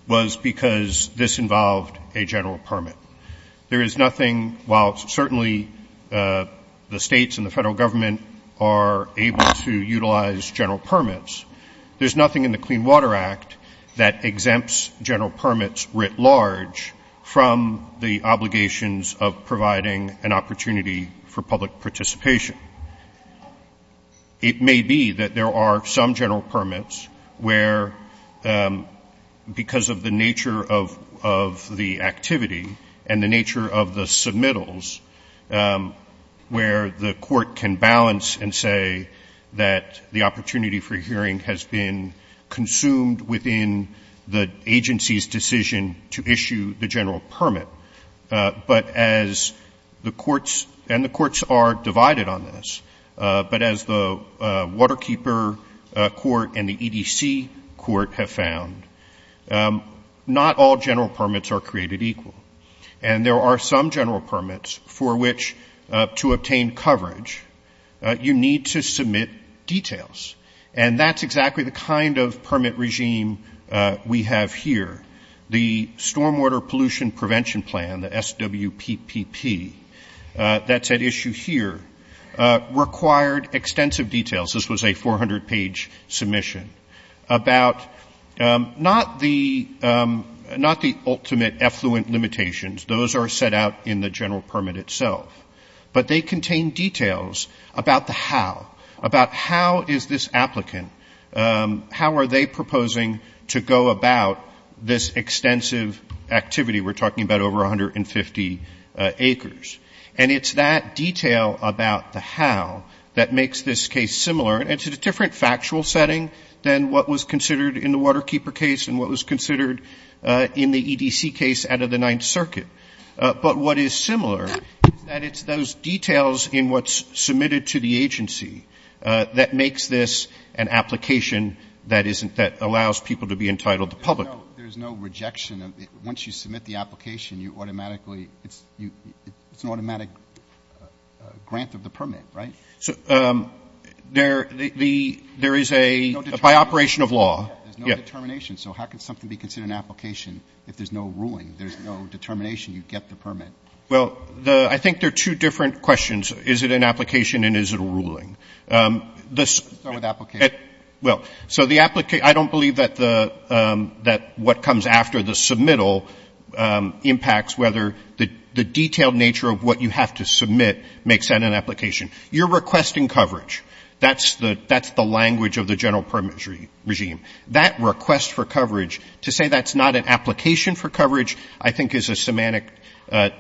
was because this involved a general permit. There is nothing, while certainly the states and the federal government are able to utilize general permits, there's nothing in the Clean Water Act that exempts general permits writ large from the obligations of providing an opportunity for public participation. It may be that there are some general permits where, because of the nature of the activity and the nature of the submittals, where the court can balance and say that the opportunity for hearing has been consumed within the agency's decision to issue the general permit. And the courts are divided on this, but as the Waterkeeper Court and the EDC Court have found, not all general permits are created equal. And there are some general permits for which, to obtain coverage, you need to submit details. And that's exactly the kind of permit regime we have here. The Stormwater Pollution Prevention Plan, the SWPPP, that's at issue here, required extensive details. This was a 400-page submission about not the ultimate effluent limitations. Those are set out in the general permit itself. But they contain details about the how, about how is this applicant, how are they proposing to go about this extensive activity. We're talking about over 150 acres. And it's that detail about the how that makes this case similar. It's a different factual setting than what was considered in the Waterkeeper case and what was considered in the EDC case out of the Ninth Circuit. But what is similar is that it's those details in what's submitted to the agency that makes this an application that allows people to be entitled to public. There's no rejection. Once you submit the application, it's an automatic grant of the permit, right? There is a, by operation of law. There's no determination. So how can something be considered an application if there's no ruling? There's no determination. You get the permit. Well, I think there are two different questions. Is it an application and is it a ruling? Start with application. Well, so the application, I don't believe that what comes after the submittal impacts whether the detailed nature of what you have to submit makes that an application. You're requesting coverage. That's the language of the general permit regime. That request for coverage, to say that's not an application for coverage, I think is a semantic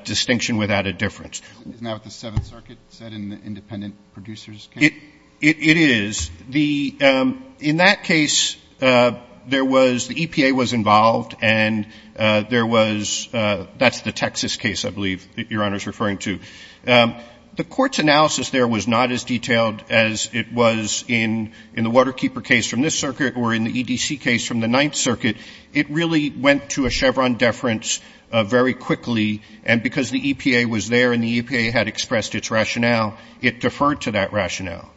distinction without a difference. Isn't that what the Seventh Circuit said in the independent producer's case? It is. In that case, there was, the EPA was involved and there was, that's the Texas case I believe Your Honor is referring to. The court's analysis there was not as detailed as it was in the Waterkeeper case from this circuit or in the EDC case from the Ninth Circuit. It really went to a Chevron deference very quickly, and because the EPA was there and the EPA had expressed its rationale, it deferred to that rationale.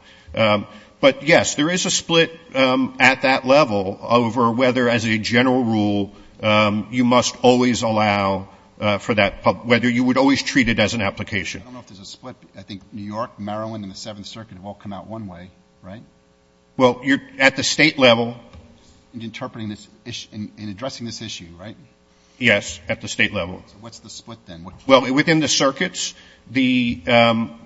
But, yes, there is a split at that level over whether, as a general rule, you must always allow for that, whether you would always treat it as an application. I don't know if there's a split. I think New York, Maryland, and the Seventh Circuit have all come out one way, right? Well, at the state level. In interpreting this issue, in addressing this issue, right? Yes, at the state level. What's the split then? Well, within the circuits, the, you can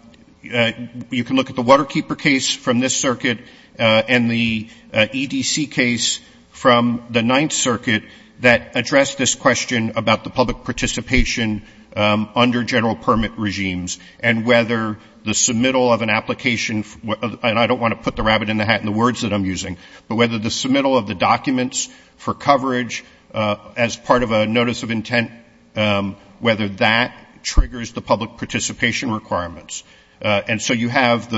look at the Waterkeeper case from this circuit and the EDC case from the Ninth Circuit that addressed this question about the public participation under general permit regimes and whether the submittal of an application, and I don't want to put the rabbit in the hat in the words that I'm using, but whether the submittal of the documents for coverage as part of a notice of intent, whether that triggers the public participation requirements. And so you have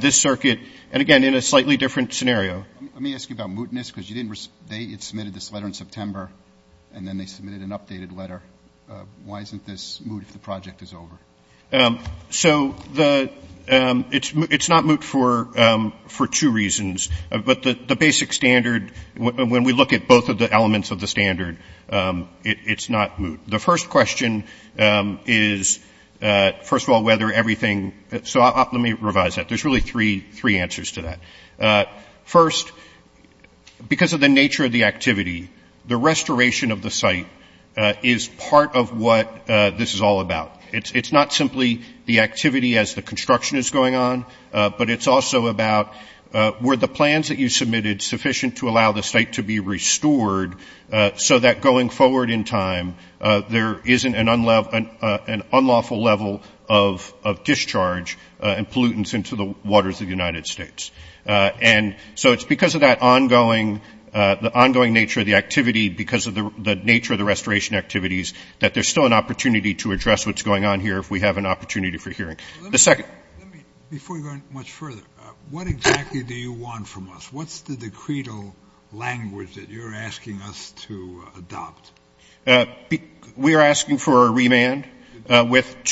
this circuit and, again, in a slightly different scenario. Let me ask you about mootness because you didn't, they had submitted this letter in September and then they submitted an updated letter. Why isn't this moot if the project is over? So the, it's not moot for two reasons. But the basic standard, when we look at both of the elements of the standard, it's not moot. The first question is, first of all, whether everything, so let me revise that. There's really three answers to that. First, because of the nature of the activity, the restoration of the site is part of what this is all about. It's not simply the activity as the construction is going on, but it's also about were the plans that you submitted sufficient to allow the site to be restored so that going forward in time there isn't an unlawful level of discharge and pollutants into the waters of the United States. And so it's because of that ongoing, the ongoing nature of the activity, because of the nature of the restoration activities, that there's still an opportunity to address what's going on here if we have an opportunity for hearing. Before you go much further, what exactly do you want from us? What's the decreto language that you're asking us to adopt? We are asking for a remand back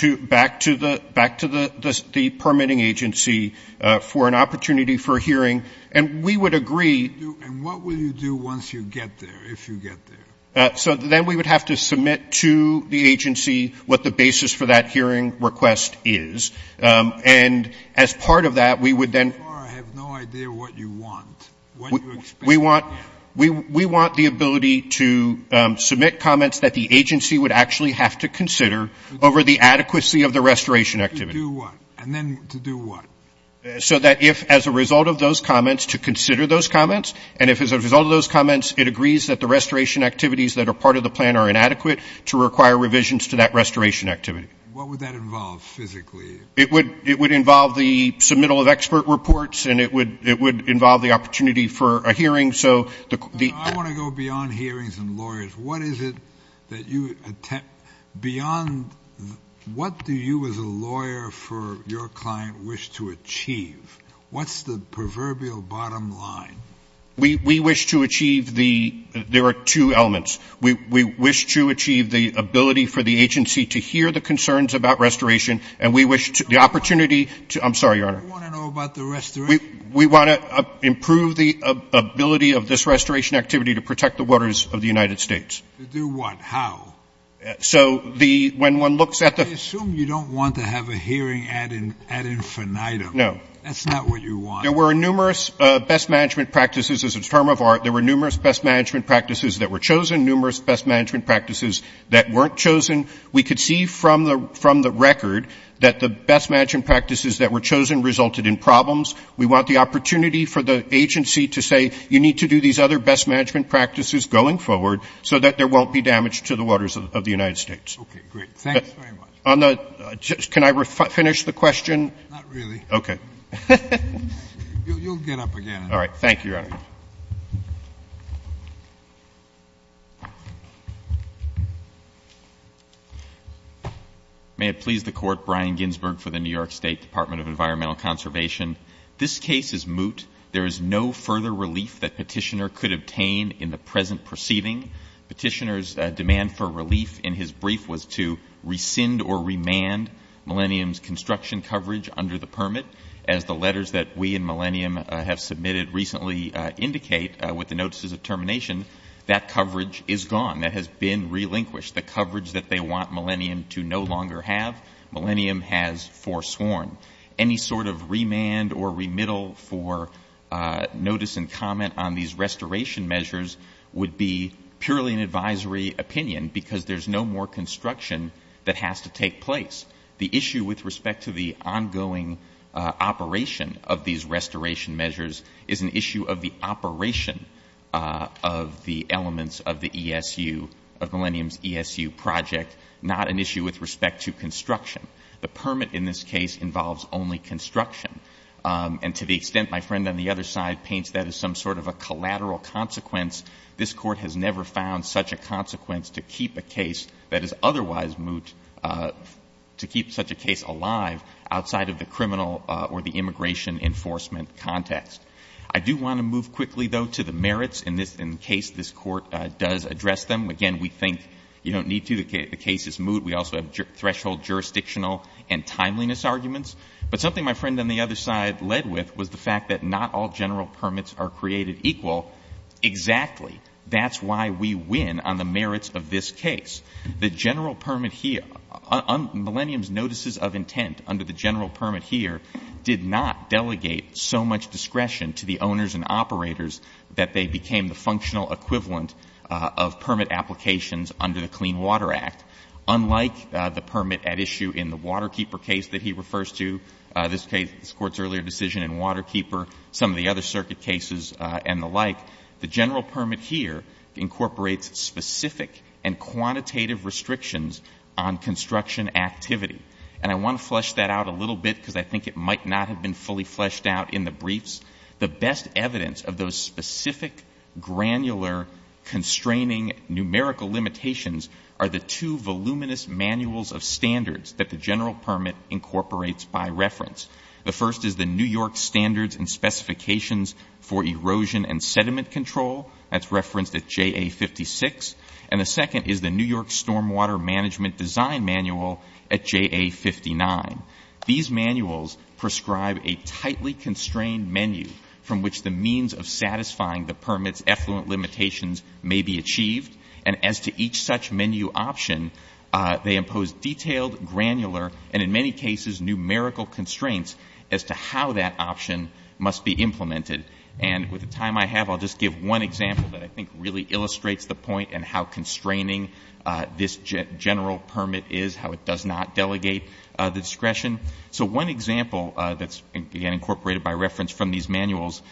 to the permitting agency for an opportunity for hearing. And we would agree. And what will you do once you get there, if you get there? So then we would have to submit to the agency what the basis for that hearing request is. And as part of that, we would then – I have no idea what you want. We want the ability to submit comments that the agency would actually have to consider over the adequacy of the restoration activity. To do what? And then to do what? So that if, as a result of those comments, to consider those comments, and if, as a result of those comments, it agrees that the restoration activities that are part of the plan are inadequate, to require revisions to that restoration activity. What would that involve, physically? It would involve the submittal of expert reports, and it would involve the opportunity for a hearing. I want to go beyond hearings and lawyers. What is it that you – beyond – what do you as a lawyer for your client wish to achieve? What's the proverbial bottom line? We wish to achieve the – there are two elements. We wish to achieve the ability for the agency to hear the concerns about restoration, and we wish to – the opportunity to – I'm sorry, Your Honor. What do you want to know about the restoration? We want to improve the ability of this restoration activity to protect the waters of the United States. To do what? How? So the – when one looks at the – I assume you don't want to have a hearing ad infinitum. No. That's not what you want. There were numerous best management practices. As a term of art, there were numerous best management practices that were chosen, numerous best management practices that weren't chosen. We could see from the record that the best management practices that were chosen resulted in problems. We want the opportunity for the agency to say, you need to do these other best management practices going forward so that there won't be damage to the waters of the United States. Okay, great. Thanks very much. Can I finish the question? Not really. Okay. You'll get up again. All right. Thank you, Your Honor. May it please the Court, Brian Ginsberg for the New York State Department of Environmental Conservation. This case is moot. There is no further relief that Petitioner could obtain in the present perceiving. Petitioner's demand for relief in his brief was to rescind or remand Millennium's construction coverage under the permit. As the letters that we and Millennium have submitted recently indicate, with the notices of termination, that coverage is gone. That has been relinquished. The coverage that they want Millennium to no longer have, Millennium has forsworn. Any sort of remand or remittal for notice and comment on these restoration measures would be purely an advisory opinion because there's no more construction that has to take place. The issue with respect to the ongoing operation of these restoration measures is an issue of the operation of the elements of the ESU, of Millennium's ESU project, not an issue with respect to construction. The permit in this case involves only construction. And to the extent my friend on the other side paints that as some sort of a collateral consequence, this court has never found such a consequence to keep a case that is otherwise moot, to keep such a case alive outside of the criminal or the immigration enforcement context. I do want to move quickly, though, to the merits in case this court does address them. Again, we think you don't need to. The case is moot. We also have threshold jurisdictional and timeliness arguments. But something my friend on the other side led with was the fact that not all general permits are created equal. Exactly. That's why we win on the merits of this case. The general permit here, Millennium's notices of intent under the general permit here did not delegate so much discretion to the owners and operators that they became the functional equivalent of permit applications under the Clean Water Act. Unlike the permit at issue in the Waterkeeper case that he refers to, this court's earlier decision in Waterkeeper, some of the other circuit cases and the like, the general permit here incorporates specific and quantitative restrictions on construction activity. And I want to flesh that out a little bit because I think it might not have been fully fleshed out in the briefs. The best evidence of those specific, granular, constraining numerical limitations are the two voluminous manuals of standards that the general permit incorporates by reference. The first is the New York Standards and Specifications for Erosion and Sediment Control. That's referenced at JA56. And the second is the New York Stormwater Management Design Manual at JA59. These manuals prescribe a tightly constrained menu from which the means of satisfying the permit's effluent limitations may be achieved. And as to each such menu option, they impose detailed, granular, and in many cases numerical constraints as to how that option must be implemented. And with the time I have, I'll just give one example that I think really illustrates the point and how constraining this general permit is, how it does not delegate the discretion. So one example that's, again, incorporated by reference from these manuals,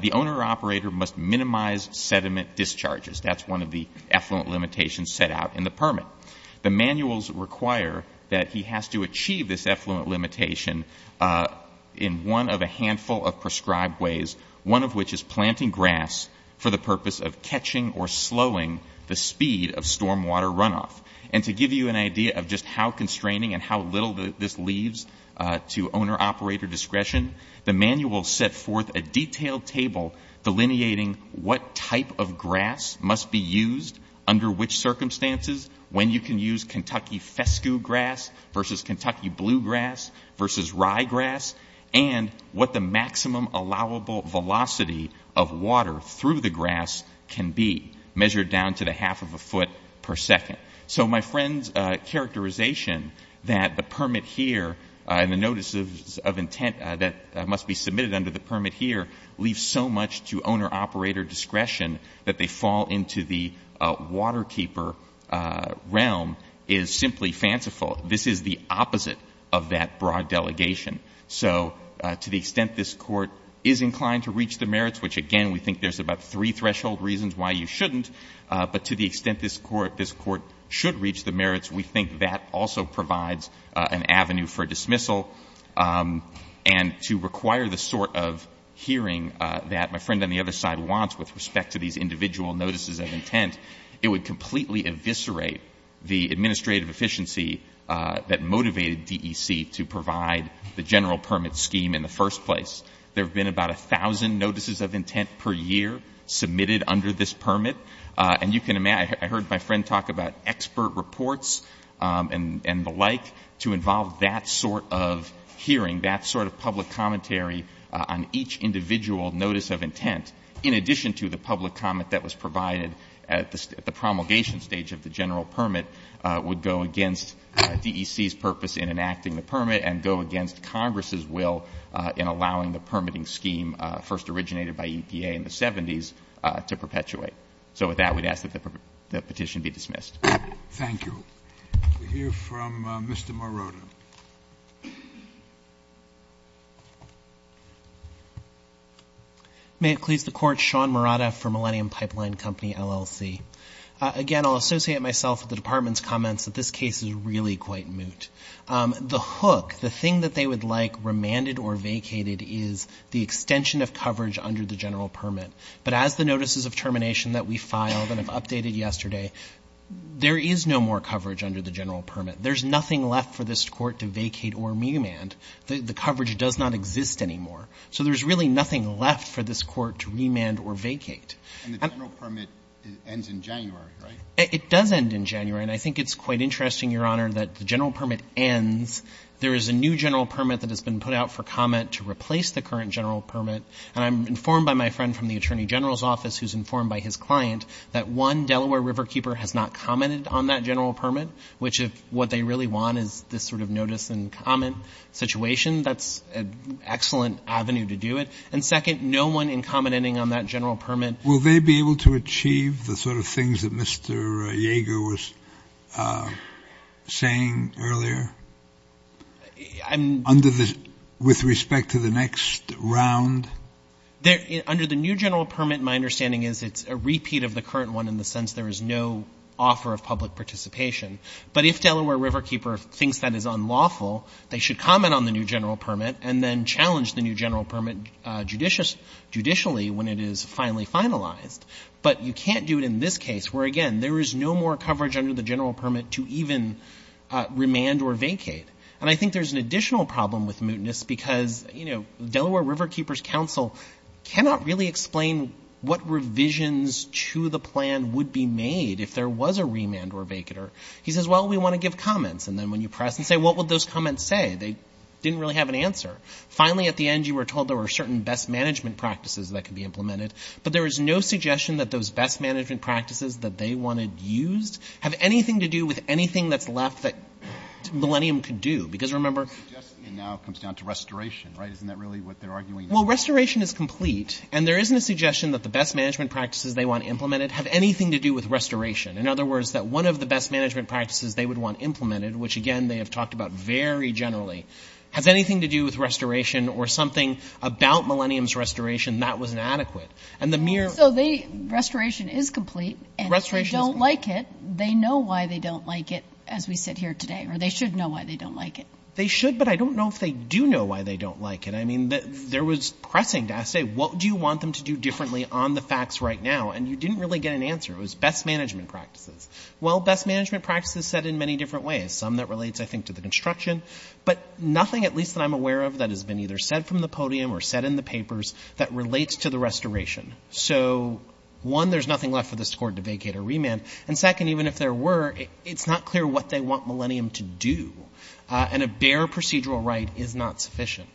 the owner-operator must minimize sediment discharges. That's one of the effluent limitations set out in the permit. The manuals require that he has to achieve this effluent limitation in one of a handful of prescribed ways, one of which is planting grass for the purpose of catching or slowing the speed of stormwater runoff. And to give you an idea of just how constraining and how little this leaves to owner-operator discretion, the manuals set forth a detailed table delineating what type of grass must be used under which circumstances, when you can use Kentucky fescue grass versus Kentucky bluegrass versus ryegrass, and what the maximum allowable velocity of water through the grass can be, measured down to the half of a foot per second. So my friend's characterization that the permit here and the notices of intent that must be submitted under the permit here leave so much to owner-operator discretion that they fall into the waterkeeper realm is simply fanciful. This is the opposite of that broad delegation. So to the extent this Court is inclined to reach the merits, which again we think there's about three threshold reasons why you shouldn't, but to the extent this Court should reach the merits, we think that also provides an avenue for dismissal. And to require the sort of hearing that my friend on the other side wants with respect to these individual notices of intent, it would completely eviscerate the administrative efficiency that motivated DEC to provide the general permit scheme in the first place. There have been about 1,000 notices of intent per year submitted under this permit, and I heard my friend talk about expert reports and the like to involve that sort of hearing, that sort of public commentary on each individual notice of intent, in addition to the public comment that was provided at the promulgation stage of the general permit, would go against DEC's purpose in enacting the permit and go against Congress' will in allowing the permitting scheme first originated by EPA in the 70s to perpetuate. So with that, we'd ask that the petition be dismissed. We'll hear from Mr. Morrone. May it please the Court, Sean Murata for Millennium Pipeline Company, LLC. Again, I'll associate myself with the Department's comments that this case is really quite moot. The hook, the thing that they would like remanded or vacated is the extension of coverage under the general permit. But as the notices of termination that we filed and have updated yesterday, there is no more coverage under the general permit. There's nothing left for this Court to vacate or remand. The coverage does not exist anymore. So there's really nothing left for this Court to remand or vacate. And the general permit ends in January, right? It does end in January, and I think it's quite interesting, Your Honor, that the general permit ends. There is a new general permit that has been put out for comment to replace the current general permit, and I'm informed by my friend from the Attorney General's office who's informed by his client that one Delaware Riverkeeper has not commented on that general permit, which if what they really want is this sort of notice and comment situation, that's an excellent avenue to do it. And second, no one in commenting on that general permit. Will they be able to achieve the sort of things that Mr. Jaeger was saying earlier with respect to the next round? Under the new general permit, my understanding is it's a repeat of the current one in the sense there is no offer of public participation. But if Delaware Riverkeeper thinks that is unlawful, they should comment on the new general permit and then challenge the new general permit judicially when it is finally finalized. But you can't do it in this case where, again, there is no more coverage under the general permit to even remand or vacate. And I think there's an additional problem with mootness because, you know, what revisions to the plan would be made if there was a remand or a vacater? He says, well, we want to give comments. And then when you press and say, what would those comments say? They didn't really have an answer. Finally, at the end, you were told there were certain best management practices that could be implemented. But there is no suggestion that those best management practices that they want to use have anything to do with anything that's left that Millennium could do. Because remember- Suggestion now comes down to restoration, right? Isn't that really what they're arguing? Well, restoration is complete. And there isn't a suggestion that the best management practices they want implemented have anything to do with restoration. In other words, that one of the best management practices they would want implemented, which, again, they have talked about very generally, has anything to do with restoration or something about Millennium's restoration that was inadequate. And the mere- So restoration is complete. And if they don't like it, they know why they don't like it as we sit here today. Or they should know why they don't like it. They should, but I don't know if they do know why they don't like it. I mean, there was pressing to ask, say, what do you want them to do differently on the facts right now? And you didn't really get an answer. It was best management practices. Well, best management practices said in many different ways. Some that relates, I think, to the construction. But nothing, at least that I'm aware of, that has been either said from the podium or said in the papers that relates to the restoration. So, one, there's nothing left for the score to vacate or remand. And second, even if there were, it's not clear what they want Millennium to do. And a bare procedural right is not sufficient.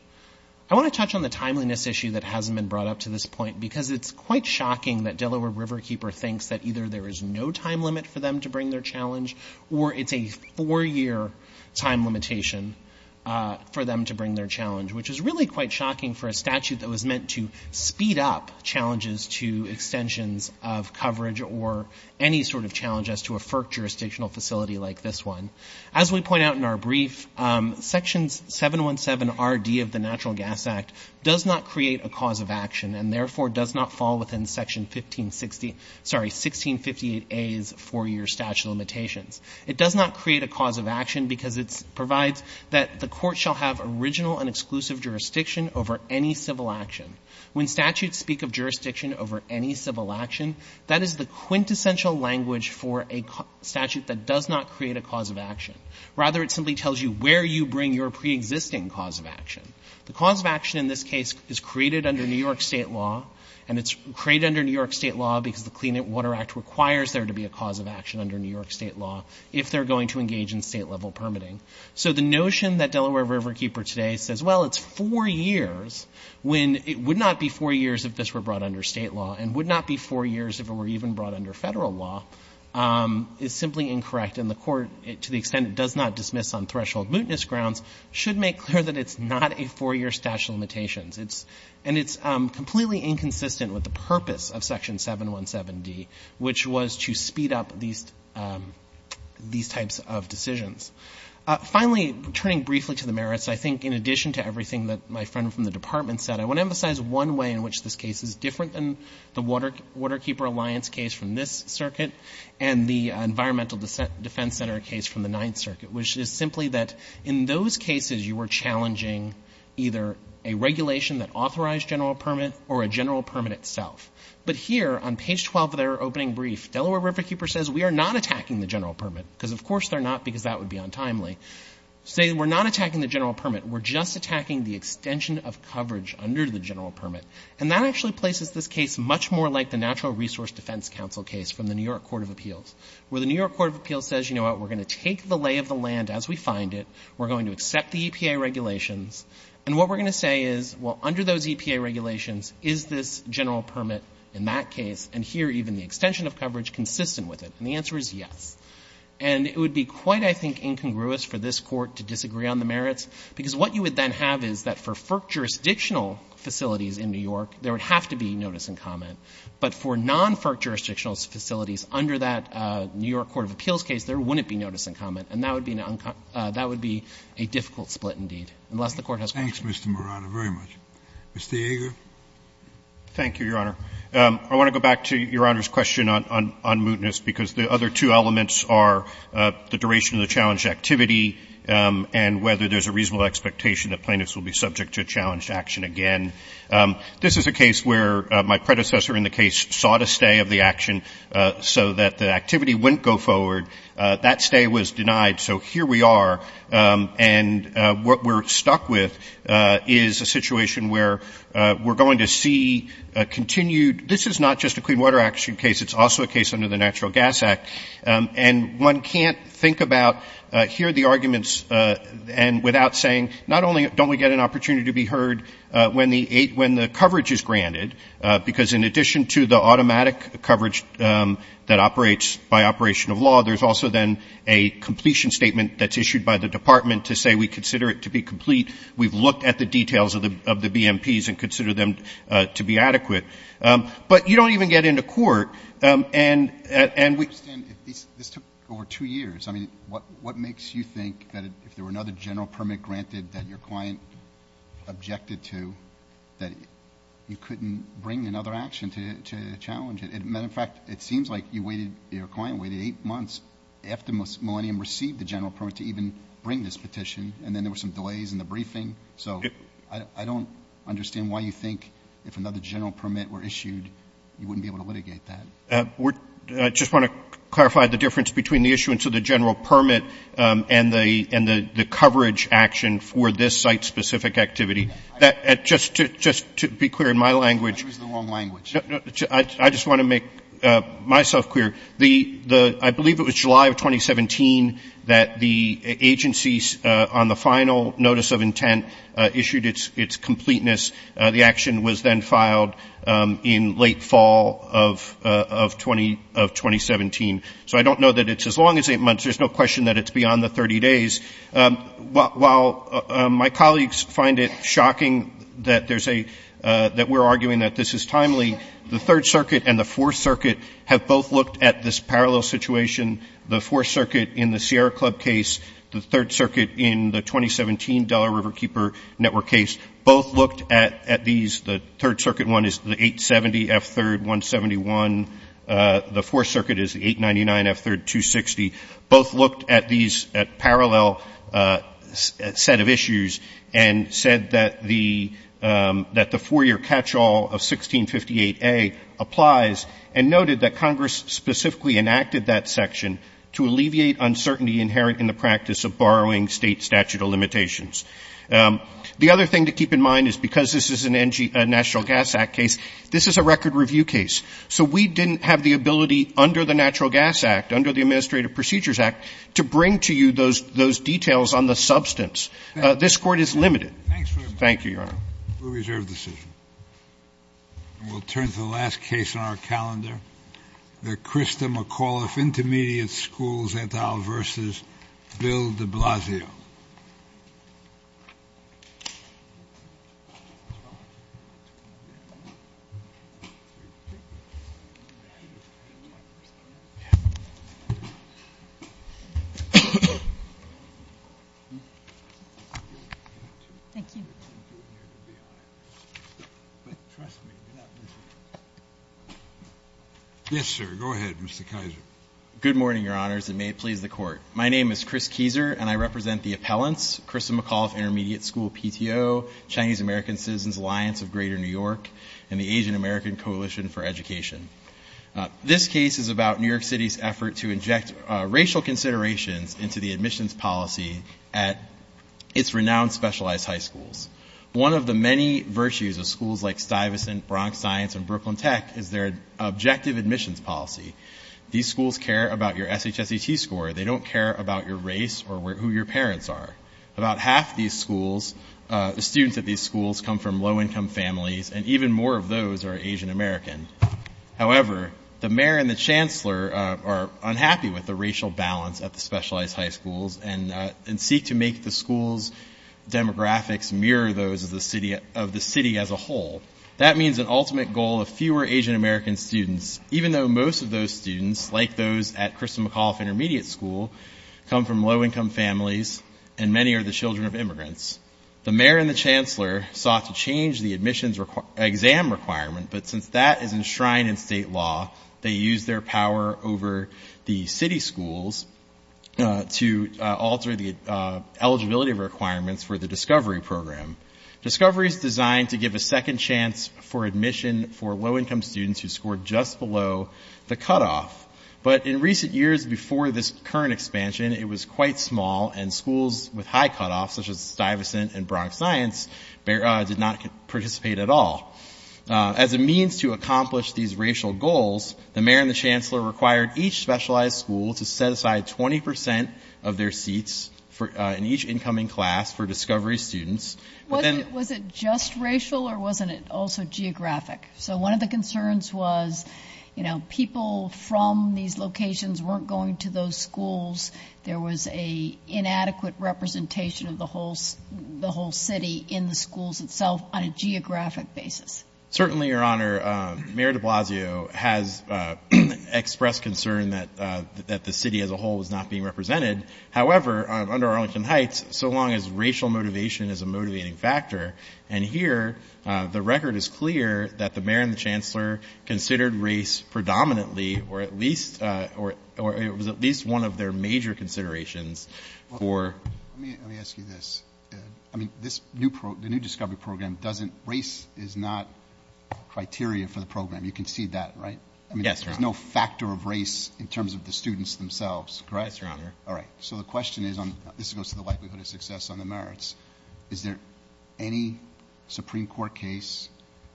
I want to touch on the timeliness issue that hasn't been brought up to this point because it's quite shocking that Delaware Riverkeeper thinks that either there is no time limit for them to bring their challenge or it's a four-year time limitation for them to bring their challenge, which is really quite shocking for a statute that was meant to speed up challenges to extensions of coverage or any sort of challenge as to a FERC jurisdictional facility like this one. As we point out in our brief, Section 717RD of the Natural Gas Act does not create a cause of action and therefore does not fall within Section 1658A's four-year statute of limitations. It does not create a cause of action because it provides that the court shall have original and exclusive jurisdiction over any civil action. When statutes speak of jurisdiction over any civil action, that is the quintessential language for a statute that does not create a cause of action. Rather, it simply tells you where you bring your pre-existing cause of action. The cause of action in this case is created under New York state law and it's created under New York state law because the Clean Water Act requires there to be a cause of action under New York state law if they're going to engage in state-level permitting. So the notion that Delaware Riverkeeper today says, well, it's four years when it would not be four years if this were brought under state law and would not be four years if it were even brought under federal law is simply incorrect and the court, to the extent it does not dismiss on threshold mootness grounds, should make clear that it's not a four-year statute of limitations. And it's completely inconsistent with the purpose of Section 717D, which was to speed up these types of decisions. Finally, turning briefly to the merits, I think in addition to everything that my friend from the Department said, I want to emphasize one way in which this case is different than the Waterkeeper Alliance case from this circuit and the Environmental Defense Center case from the Ninth Circuit, which is simply that in those cases you were challenging either a regulation that authorized general permit or a general permit itself. But here, on page 12 of their opening brief, Delaware Riverkeeper says we are not attacking the general permit because of course they're not because that would be untimely. They say we're not attacking the general permit. We're just attacking the extension of coverage under the general permit. And that actually places this case much more like the Natural Resource Defense Council case from the New York Court of Appeals, where the New York Court of Appeals says, you know what, we're going to take the lay of the land as we find it. We're going to accept the EPA regulations. And what we're going to say is, well, under those EPA regulations, is this general permit in that case, and here even the extension of coverage consistent with it? And the answer is yes. And it would be quite, I think, incongruous for this court to disagree on the merits because what you would then have is that for FERC jurisdictional facilities in New York, there would have to be notice and comment. But for non-FERC jurisdictional facilities under that New York Court of Appeals case, there wouldn't be notice and comment. And that would be a difficult split indeed, unless the court has permission. Thank you, Mr. Marano, very much. Mr. Yeager? Thank you, Your Honor. I want to go back to Your Honor's question on mootness because the other two elements are the duration of the challenge activity and whether there's a reasonable expectation that plaintiffs will be subject to a challenge action again. This is a case where my predecessor in the case sought a stay of the action so that the activity wouldn't go forward. That stay was denied, so here we are. And what we're stuck with is a situation where we're going to see a continued This is not just a clean water action case. It's also a case under the Natural Gas Act. And one can't think about, hear the arguments without saying, not only don't we get an opportunity to be heard when the coverage is granted, because in addition to the automatic coverage that operates by operation of law, there's also then a completion statement that's issued by the department to say we consider it to be complete. We've looked at the details of the BMPs and consider them to be adequate. But you don't even get into court. This took over two years. I mean, what makes you think that if there were another general permit granted that your client objected to, that you couldn't bring another action to challenge it? Matter of fact, it seems like your client waited eight months after Millennium received the general permit to even bring this petition, and then there were some delays in the briefing. So I don't understand why you think if another general permit were issued, you wouldn't be able to litigate that. I just want to clarify the difference between the issuance of the general permit and the coverage action for this site-specific activity. Just to be clear in my language, I just want to make myself clear. I believe it was July of 2017 that the agencies on the final notice of intent issued its completeness. The action was then filed in late fall of 2017. So I don't know that it's as long as eight months. There's no question that it's beyond the 30 days. While my colleagues find it shocking that we're arguing that this is timely, the Third Circuit and the Fourth Circuit have both looked at this parallel situation. The Fourth Circuit in the Sierra Club case, the Third Circuit in the 2017 Delaware Riverkeeper Network case both looked at these. The Third Circuit one is the 870F3-171. The Fourth Circuit is the 899F3-260. Both looked at these parallel set of issues and said that the four-year catchall of 1658A applies and noted that Congress specifically enacted that section to alleviate uncertainty inherent in the practice of borrowing state statute of limitations. The other thing to keep in mind is because this is a National Gas Act case, this is a record review case. So we didn't have the ability under the Natural Gas Act, under the Administrative Procedures Act, to bring to you those details on the substance. This court is limited. Thank you, Your Honor. We'll turn to the last case on our calendar. The Krista McAuliffe Intermediate Schools et al. v. Bill de Blasio. Yes, sir. Go ahead, Mr. Kizer. Good morning, Your Honors, and may it please the Court. My name is Chris Kizer, and I represent the appellants, Krista McAuliffe Intermediate School PTO, Chinese American Citizens Alliance of Greater New York, and the Asian American Coalition for Education. This case is about New York City's effort to inject racial consideration into the admissions policy at its renowned specialized high schools. One of the many virtues of schools like Stuyvesant, Bronx Science, and Brooklyn Tech is their objective admissions policy. These schools care about your SHSET score. They don't care about your race or who your parents are. About half of these schools, the students at these schools, come from low-income families, and even more of those are Asian Americans. However, the mayor and the chancellor are unhappy with the racial balance at the specialized high schools and seek to make the school's demographics mirror those of the city as a whole. That means an ultimate goal of fewer Asian American students, even though most of those students, like those at Krista McAuliffe Intermediate School, come from low-income families, and many are the children of immigrants. The mayor and the chancellor sought to change the admissions exam requirement, but since that is enshrined in state law, they used their power over the city schools to alter the eligibility requirements for the Discovery Program. Discovery is designed to give a second chance for admission for low-income students who scored just below the cutoff, but in recent years before this current expansion, it was quite small, and schools with high cutoffs, such as Stuyvesant and Bronx Science, did not participate at all. As a means to accomplish these racial goals, the mayor and the chancellor required each specialized school to set aside 20% of their seats in each incoming class for Discovery students. Was it just racial, or wasn't it also geographic? So one of the concerns was, you know, people from these locations weren't going to those schools. There was an inadequate representation of the whole city in the schools itself on a geographic basis. Certainly, Your Honor, Mayor de Blasio has expressed concern that the city as a whole is not being represented. However, under Arlington Heights, so long as racial motivation is a motivating factor, and here the record is clear that the mayor and the chancellor considered race predominantly, or at least one of their major considerations. Let me ask you this. I mean, the new Discovery Program, race is not criteria for the program. You can see that, right? Yes, Your Honor. There's no factor of race in terms of the students themselves, correct? Yes, Your Honor. All right. So the question is, and this goes to the likelihood of success on the merits, is there any Supreme Court case,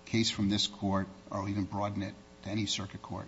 case from this court, or even broaden it to any circuit court,